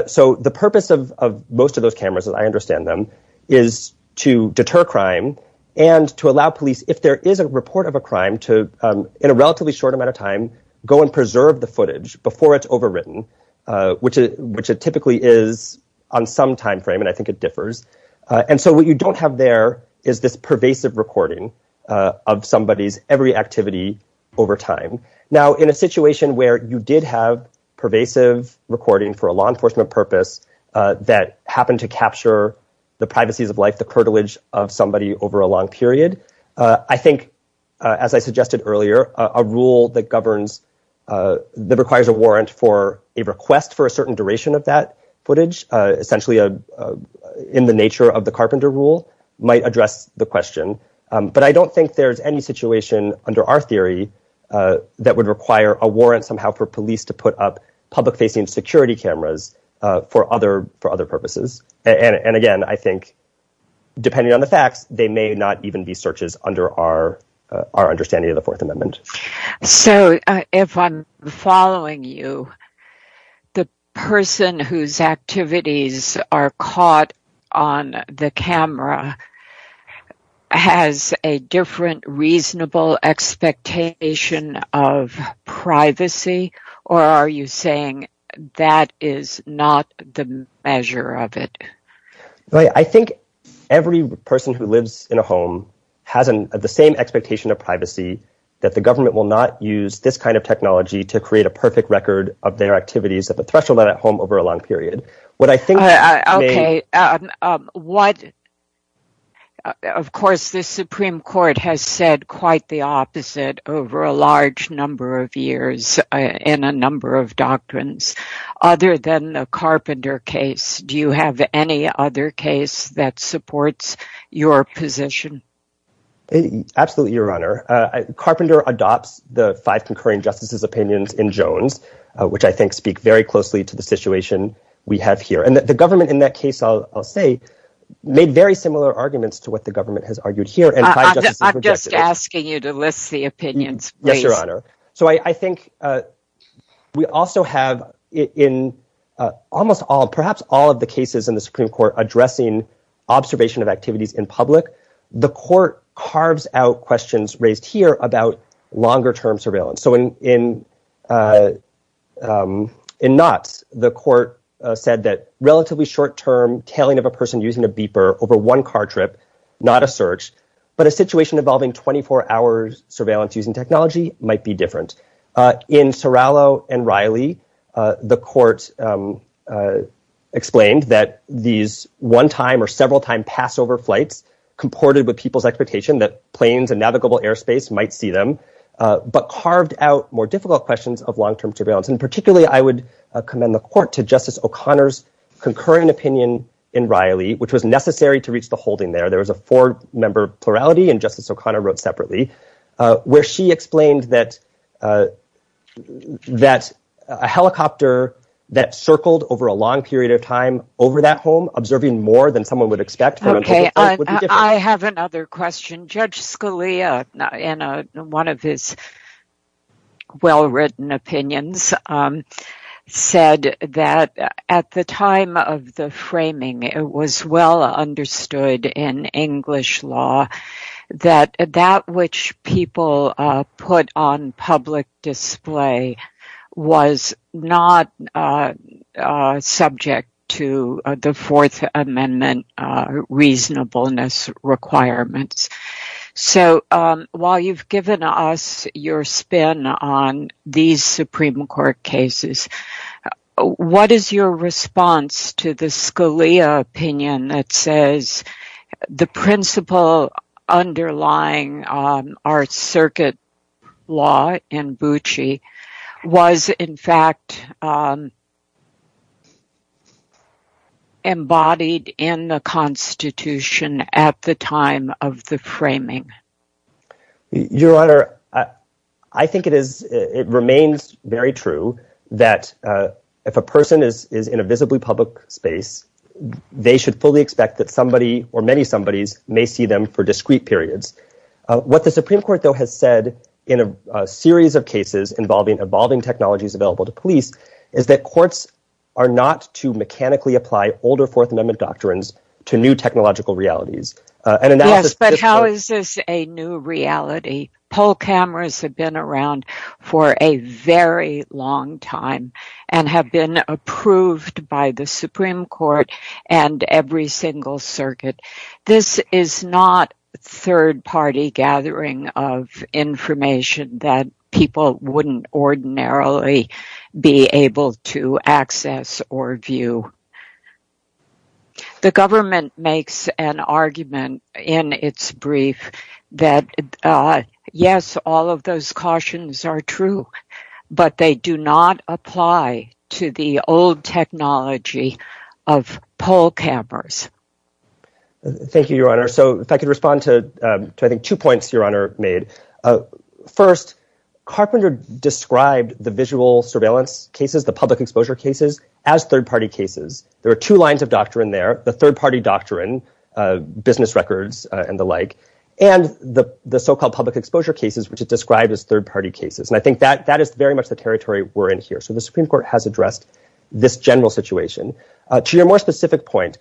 So the purpose of most of those cameras, as I understand them, is to deter crime and to in a relatively short amount of time, go and preserve the footage before it's overwritten, which it typically is on some time frame. And I think it differs. And so what you don't have there is this pervasive recording of somebody's every activity over time. Now, in a situation where you did have pervasive recording for a law enforcement purpose that happened to capture the privacies of life, the privilege of somebody over a long period, I think, as I suggested earlier, a rule that governs that requires a warrant for a request for a certain duration of that footage, essentially in the nature of the carpenter rule might address the question. But I don't think there's any situation under our theory that would require a warrant somehow for police to put up public facing security cameras for other purposes. And again, I think, depending on the fact, they may not even be searches under our understanding of the Fourth Amendment. So if I'm following you, the person whose activities are caught on the camera has a different reasonable expectation of privacy, or are you saying that is not the measure of it? I think every person who lives in a home has the same expectation of privacy that the government will not use this kind of technology to create a perfect record of their activities at the threshold of that home over a long period. What I think... Okay. Of course, the Supreme Court has said quite the opposite over a large number of years and a number of doctrines. Other than the Carpenter case, do you have any other case that supports your position? Absolutely, Your Honor. Carpenter adopts the five concurring justices' opinions in Jones, which I think speak very closely to the situation we have here. And the government in that case, I'll say, made very similar arguments to what the government has argued here. I'm just asking you to list the opinions. Yes, Your Honor. So I think we also have, in almost all, perhaps all of the cases in the Supreme Court addressing observation of activities in public, the court carves out questions raised here about longer term surveillance. So in Knotts, the court said that relatively short term tailing of a person using a beeper over one car trip, not a search, but a situation involving 24 hours surveillance using technology might be different. In Sorallo and Riley, the court explained that these one time or several time pass over flights comported with people's expectation that planes and navigable airspace might see them, but carved out more difficult questions of long term surveillance. And particularly, I would commend the court to Justice O'Connor's concurrent opinion in Riley, which was necessary to reach the holding there. There was a four member plurality and Justice O'Connor wrote separately, where she explained that a helicopter that circled over a long period of time over that home, observing more than someone would expect. Okay, I have another question. Judge Scalia, in one of his well written opinions, said that at the time of the framing, it was well understood in English law that that which people put on public display was not subject to the Fourth Amendment reasonableness requirements. So while you've given us your spin on these Supreme Court cases, what is your response to the Scalia opinion that says the principle underlying our circuit law in Bucci was in fact embodied in the Constitution at the time of the framing? Your Honor, I think it remains very true that if a person is in a visibly public space, they should fully expect that somebody or many somebodies may see them for discrete periods. What the Supreme Court though has said in a series of cases involving evolving technologies available to police is that courts are not to mechanically apply older Fourth Amendment doctrines to new technological realities. But how is this a new reality? Poll cameras have been around for a very long time and have been approved by the Supreme Court and every single circuit. This is not third party gathering of information that people wouldn't ordinarily be able to access or view. The government makes an argument in its brief that, yes, all of those cautions are true, but they do not apply to the old technology of poll cameras. Thank you, Your Honor. So if I could respond to two points Your Honor made. First, Carpenter described the visual surveillance cases, the public exposure cases, as third party cases. There are two lines of doctrine there. The third party doctrine, business records and the like, and the so-called public exposure cases, which is described as third party cases. And I think that is very much the territory we're in here. So the Supreme Court has addressed this general situation. To your more specific point,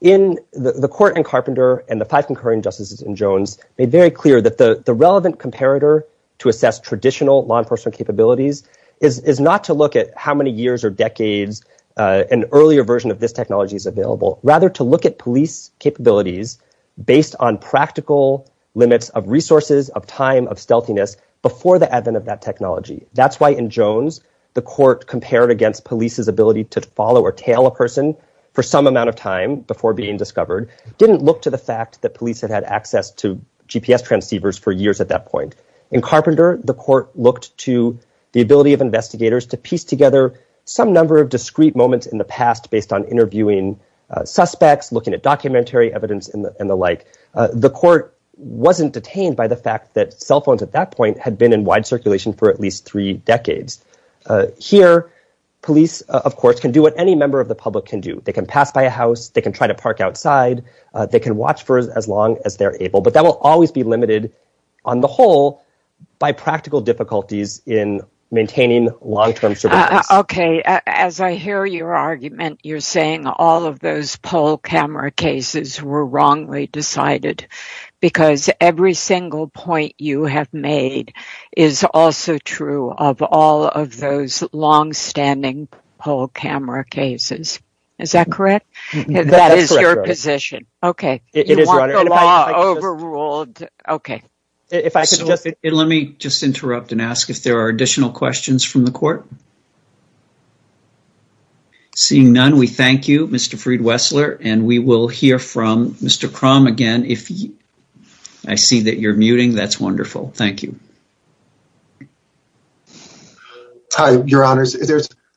the court in Carpenter and the five concurring justices in Jones made very clear that the relevant comparator to assess traditional law enforcement capabilities is not to look at how many years or decades an earlier version of this technology is available, rather to look at police capabilities based on practical limits of resources, of time, of stealthiness before the advent of that technology. That's why in Jones, the court compared against police's ability to follow or tail a person for some amount of time before being discovered, didn't look to the fact that police had had access to GPS transceivers for years at that point. In Carpenter, the court looked to the ability of investigators to piece together some number of discrete moments in the past based on interviewing suspects, looking at documentary evidence and the like. The court wasn't detained by the fact that cell phones at that point had been in wide circulation for at least three decades. Here, police, of course, can do what any member of the public can do. They can pass by a house. They can try to park outside. They can watch for as long as they're able. But that will always be limited on the whole by practical difficulties in maintaining long term surveillance. OK, as I hear your argument, you're saying all of those poll camera cases were wrongly decided because every single point you have made is also true of all of those long standing poll camera cases. Is that correct? That is your position. OK, it is overruled. OK, let me just interrupt and ask if there are additional questions from the court. Seeing none, we thank you, Mr. Freed-Wessler. And we will hear from Mr. Crum again if I see that you're muting. That's wonderful. Thank you. Hi, your honor.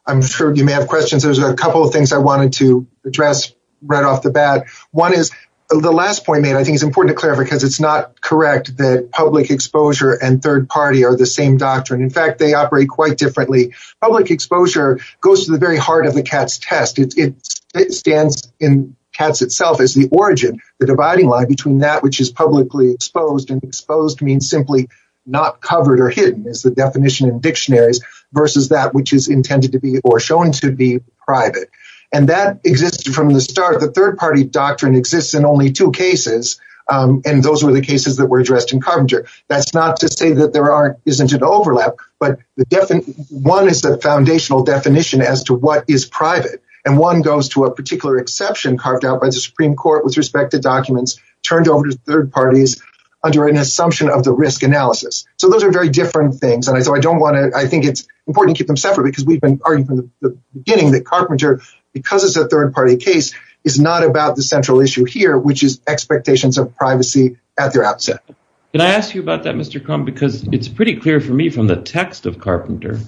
I'm sure you may have questions. There's a couple of things I wanted to address right off the bat. One is the last point, and I think it's important to clarify because it's not correct that public exposure and third party are the same doctrine. In fact, they operate quite differently. Public exposure goes to the very heart of the CATS test. It stands in CATS itself as the origin, the dividing line between that which is publicly exposed and exposed means simply not covered or hidden is the definition in dictionaries versus that which is intended to be or shown to be private. And that existed from the start. The third party doctrine exists in only two cases. And those were the cases that were addressed in Carpenter. That's not to say that there isn't an overlap. But one is the foundational definition as to what is private. And one goes to a particular exception carved out by the Supreme Court with respect to documents turned over to third parties under an assumption of the risk analysis. So those are very different things. And I don't want to, I think it's important to keep them separate because we've been getting the Carpenter because it's a third party case is not about the central issue here, which is expectations of privacy at their outset. Can I ask you about that, Mr. Cohn, because it's pretty clear for me from the text of Carpenter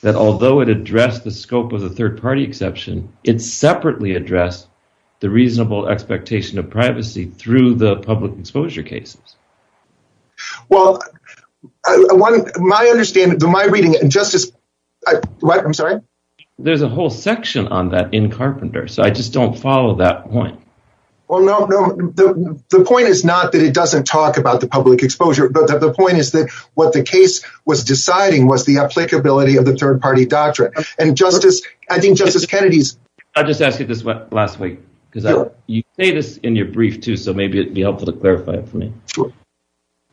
that although it addressed the scope of the third party exception, it separately addressed the reasonable expectation of privacy through the public exposure cases. Well, my understanding, my reading and justice, I'm sorry, there's a whole section on that in Carpenter. So I just don't follow that point. Well, no, no. The point is not that it doesn't talk about the public exposure, but the point is that what the case was deciding was the applicability of the third party doctrine. And justice, I think justice Kennedy's. I just asked you this last week because you say this in your brief too. So maybe it would be helpful to clarify for me.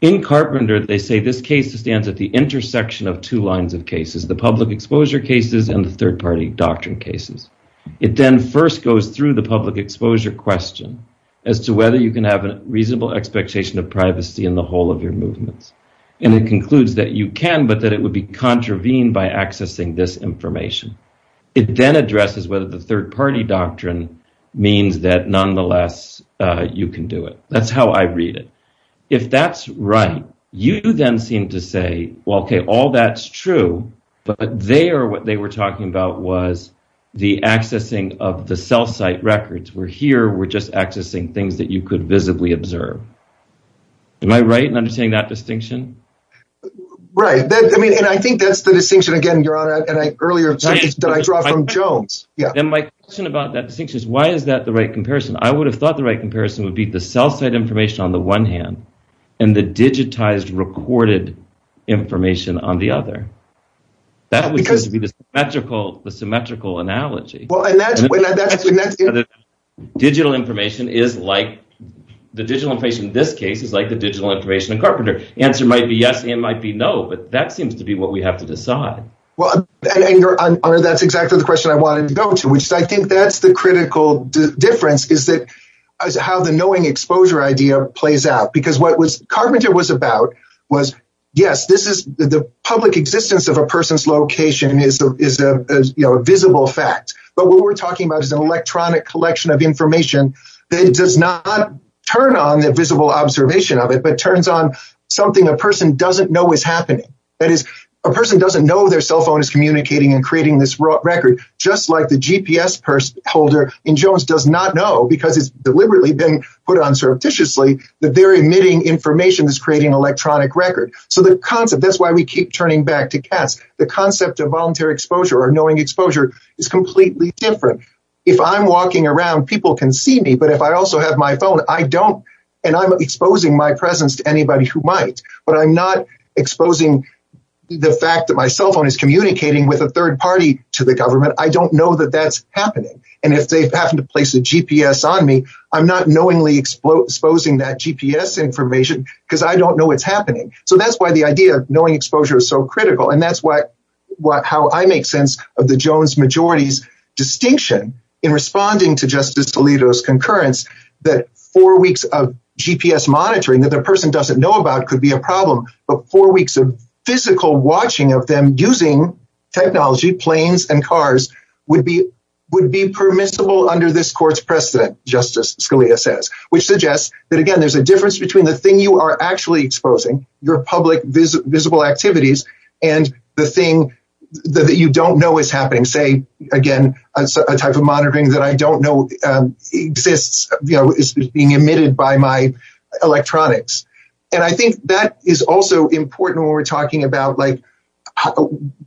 In Carpenter, they say this case stands at the intersection of two lines of cases, the public exposure cases and third party doctrine cases. It then first goes through the public exposure question as to whether you can have a reasonable expectation of privacy in the whole of your movements. And it concludes that you can, but that it would be contravened by accessing this information. It then addresses whether the third party doctrine means that nonetheless, you can do it. That's how I read it. If that's right, you then seem to say, well, OK, all that's true, but they are what they were talking about was the accessing of the cell site records. We're here. We're just accessing things that you could visibly observe. Am I right in understanding that distinction? Right. I mean, and I think that's the distinction, again, you're on an earlier session that I brought from Jones. Yeah. And my question about that distinction is why is that the right comparison? I would have thought the right comparison would be the cell site information on the one hand and the digitized recorded information on the other. That would be the symmetrical, the symmetrical analogy. Well, and that's. Digital information is like the digital information in this case is like the digital information in Carpenter. Answer might be yes and might be no, but that seems to be what we have to decide. Well, that's exactly the question I wanted to go to, which I think that's the critical difference is that how the knowing exposure idea plays out, because what was Carpenter was about was, yes, this is the public existence of a person's location is a visible fact. But what we're talking about is an electronic collection of information that does not turn on the visible observation of it, but turns on something a person doesn't know is happening. That is, a person doesn't know their cell phone is communicating and creating this record, just like the GPS holder in Jones does not know because it's deliberately been put on surreptitiously that they're emitting information that's creating an electronic record. So the concept, that's why we keep turning back to cats. The concept of voluntary exposure or knowing exposure is completely different. If I'm walking around, people can see me. But if I also have my phone, I don't. And I'm exposing my presence to anybody who might, but I'm not exposing the fact that my cell phone is communicating with a third party to the government. I don't know that that's happening. And if they happen to place a GPS on me, I'm not knowingly exposing that GPS information because I don't know what's happening. So that's why the idea of knowing exposure is so critical. And that's why, how I make sense of the Jones majority's distinction in responding to Justice Alito's concurrence that four weeks of GPS monitoring that the person doesn't know about could be a problem, but four weeks of physical watching of them using technology, planes and cars would be permissible under this court's precedent, Justice Scalia says, which suggests that, again, there's a difference between the thing you are actually exposing, your public visible activities, and the thing that you don't know is happening. Say, again, a type of monitoring that I don't know exists, is being emitted by my electronics. And I think that is also important when we're talking about like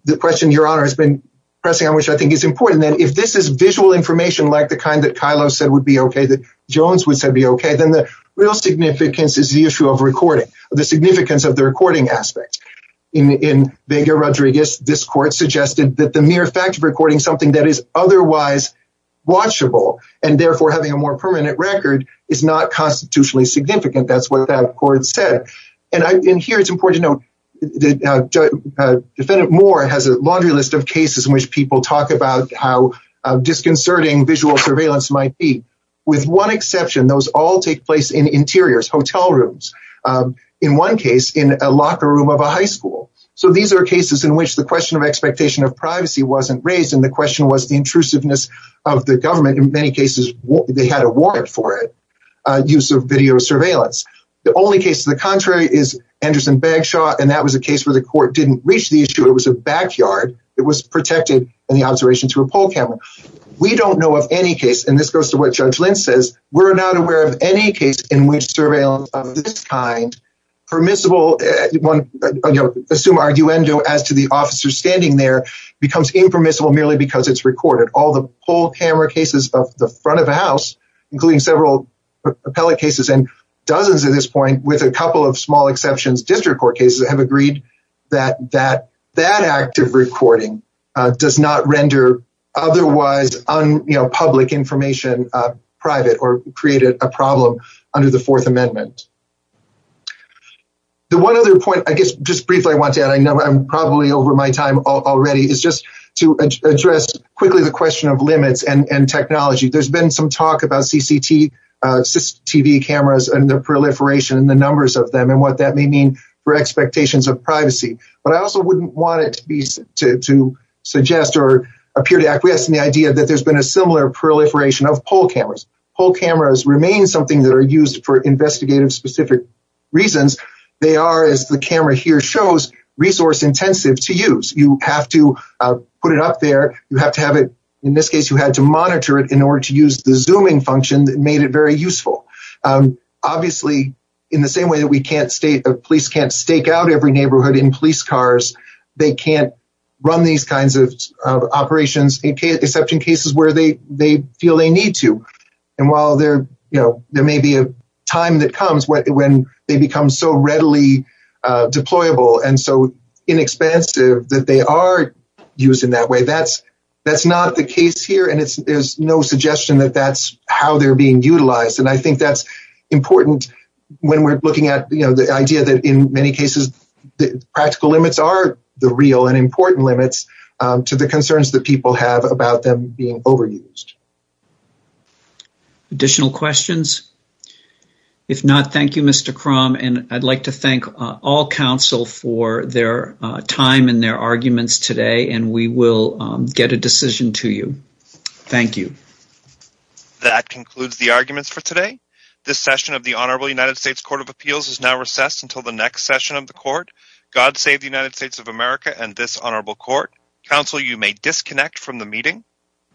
the question Your Honor has been pressing on, which I think is important, that if this is visual information like the kind that Kylo said would be okay, that Jones would say would be okay, then the real significance is the issue of recording. The significance of the recording aspect. In Vega-Rodriguez, this court suggested that the mere fact of recording something that is otherwise watchable, and therefore having a more permanent record, is not constitutionally significant. That's what that court said. And here it's important to note, the defendant Moore has a laundry list of cases in which people talk about how disconcerting visual surveillance might be. With one exception, those all take interiors, hotel rooms. In one case, in a locker room of a high school. So these are cases in which the question of expectation of privacy wasn't raised, and the question was the intrusiveness of the government. In many cases, they had a warrant for it, use of video surveillance. The only case to the contrary is Anderson-Bagshaw, and that was a case where the court didn't reach the issue. It was a backyard. It was protected in the observation to a poll camera. We don't know of any case, and this goes to what Judge Lynch says, we're not aware of any case in which surveillance of this kind, permissible, assume arguendo as to the officer standing there, becomes impermissible merely because it's recorded. All the poll camera cases of the front of the house, including several appellate cases, and dozens at this point, with a couple of small exceptions, district court cases, have agreed that that act of recording does not render otherwise public information private or create a problem under the Fourth Amendment. The one other point, I guess just briefly I want to add, I know I'm probably over my time already, is just to address quickly the question of limits and technology. There's been some talk about CCTV cameras and the proliferation and the numbers of them and what that may mean for expectations of privacy, but I also wouldn't want it to suggest or appear to acquiesce in the idea that there's been a similar proliferation of poll cameras. Poll cameras remain something that are used for investigative specific reasons. They are, as the camera here shows, resource intensive to use. You have to put it up there. You have to have it, in this case, you had to monitor it in order to use the zooming function that made it very useful. Obviously, in the same way that police can't stake out every neighborhood in police cars, they can't run these kinds of operations, except in cases where they feel they need to. While there may be a time that comes when they become so readily deployable and so inexpensive that they are used in that way, that's not the case here. There's no suggestion that that's how they're being utilized. I think that's important when we're looking at the idea that, in many cases, the practical limits are the real and important limits to the concerns that people have about them being overused. Additional questions? If not, thank you, Mr. Crom. I'd like to thank all counsel for their time and their arguments today, and we will get a decision to you. Thank you. That concludes the arguments for today. This session of the Honorable United States Court of Appeals is now recessed until the next session of the court, God Save the United States of America and This Honorable Court. Counsel, you may disconnect from the meeting.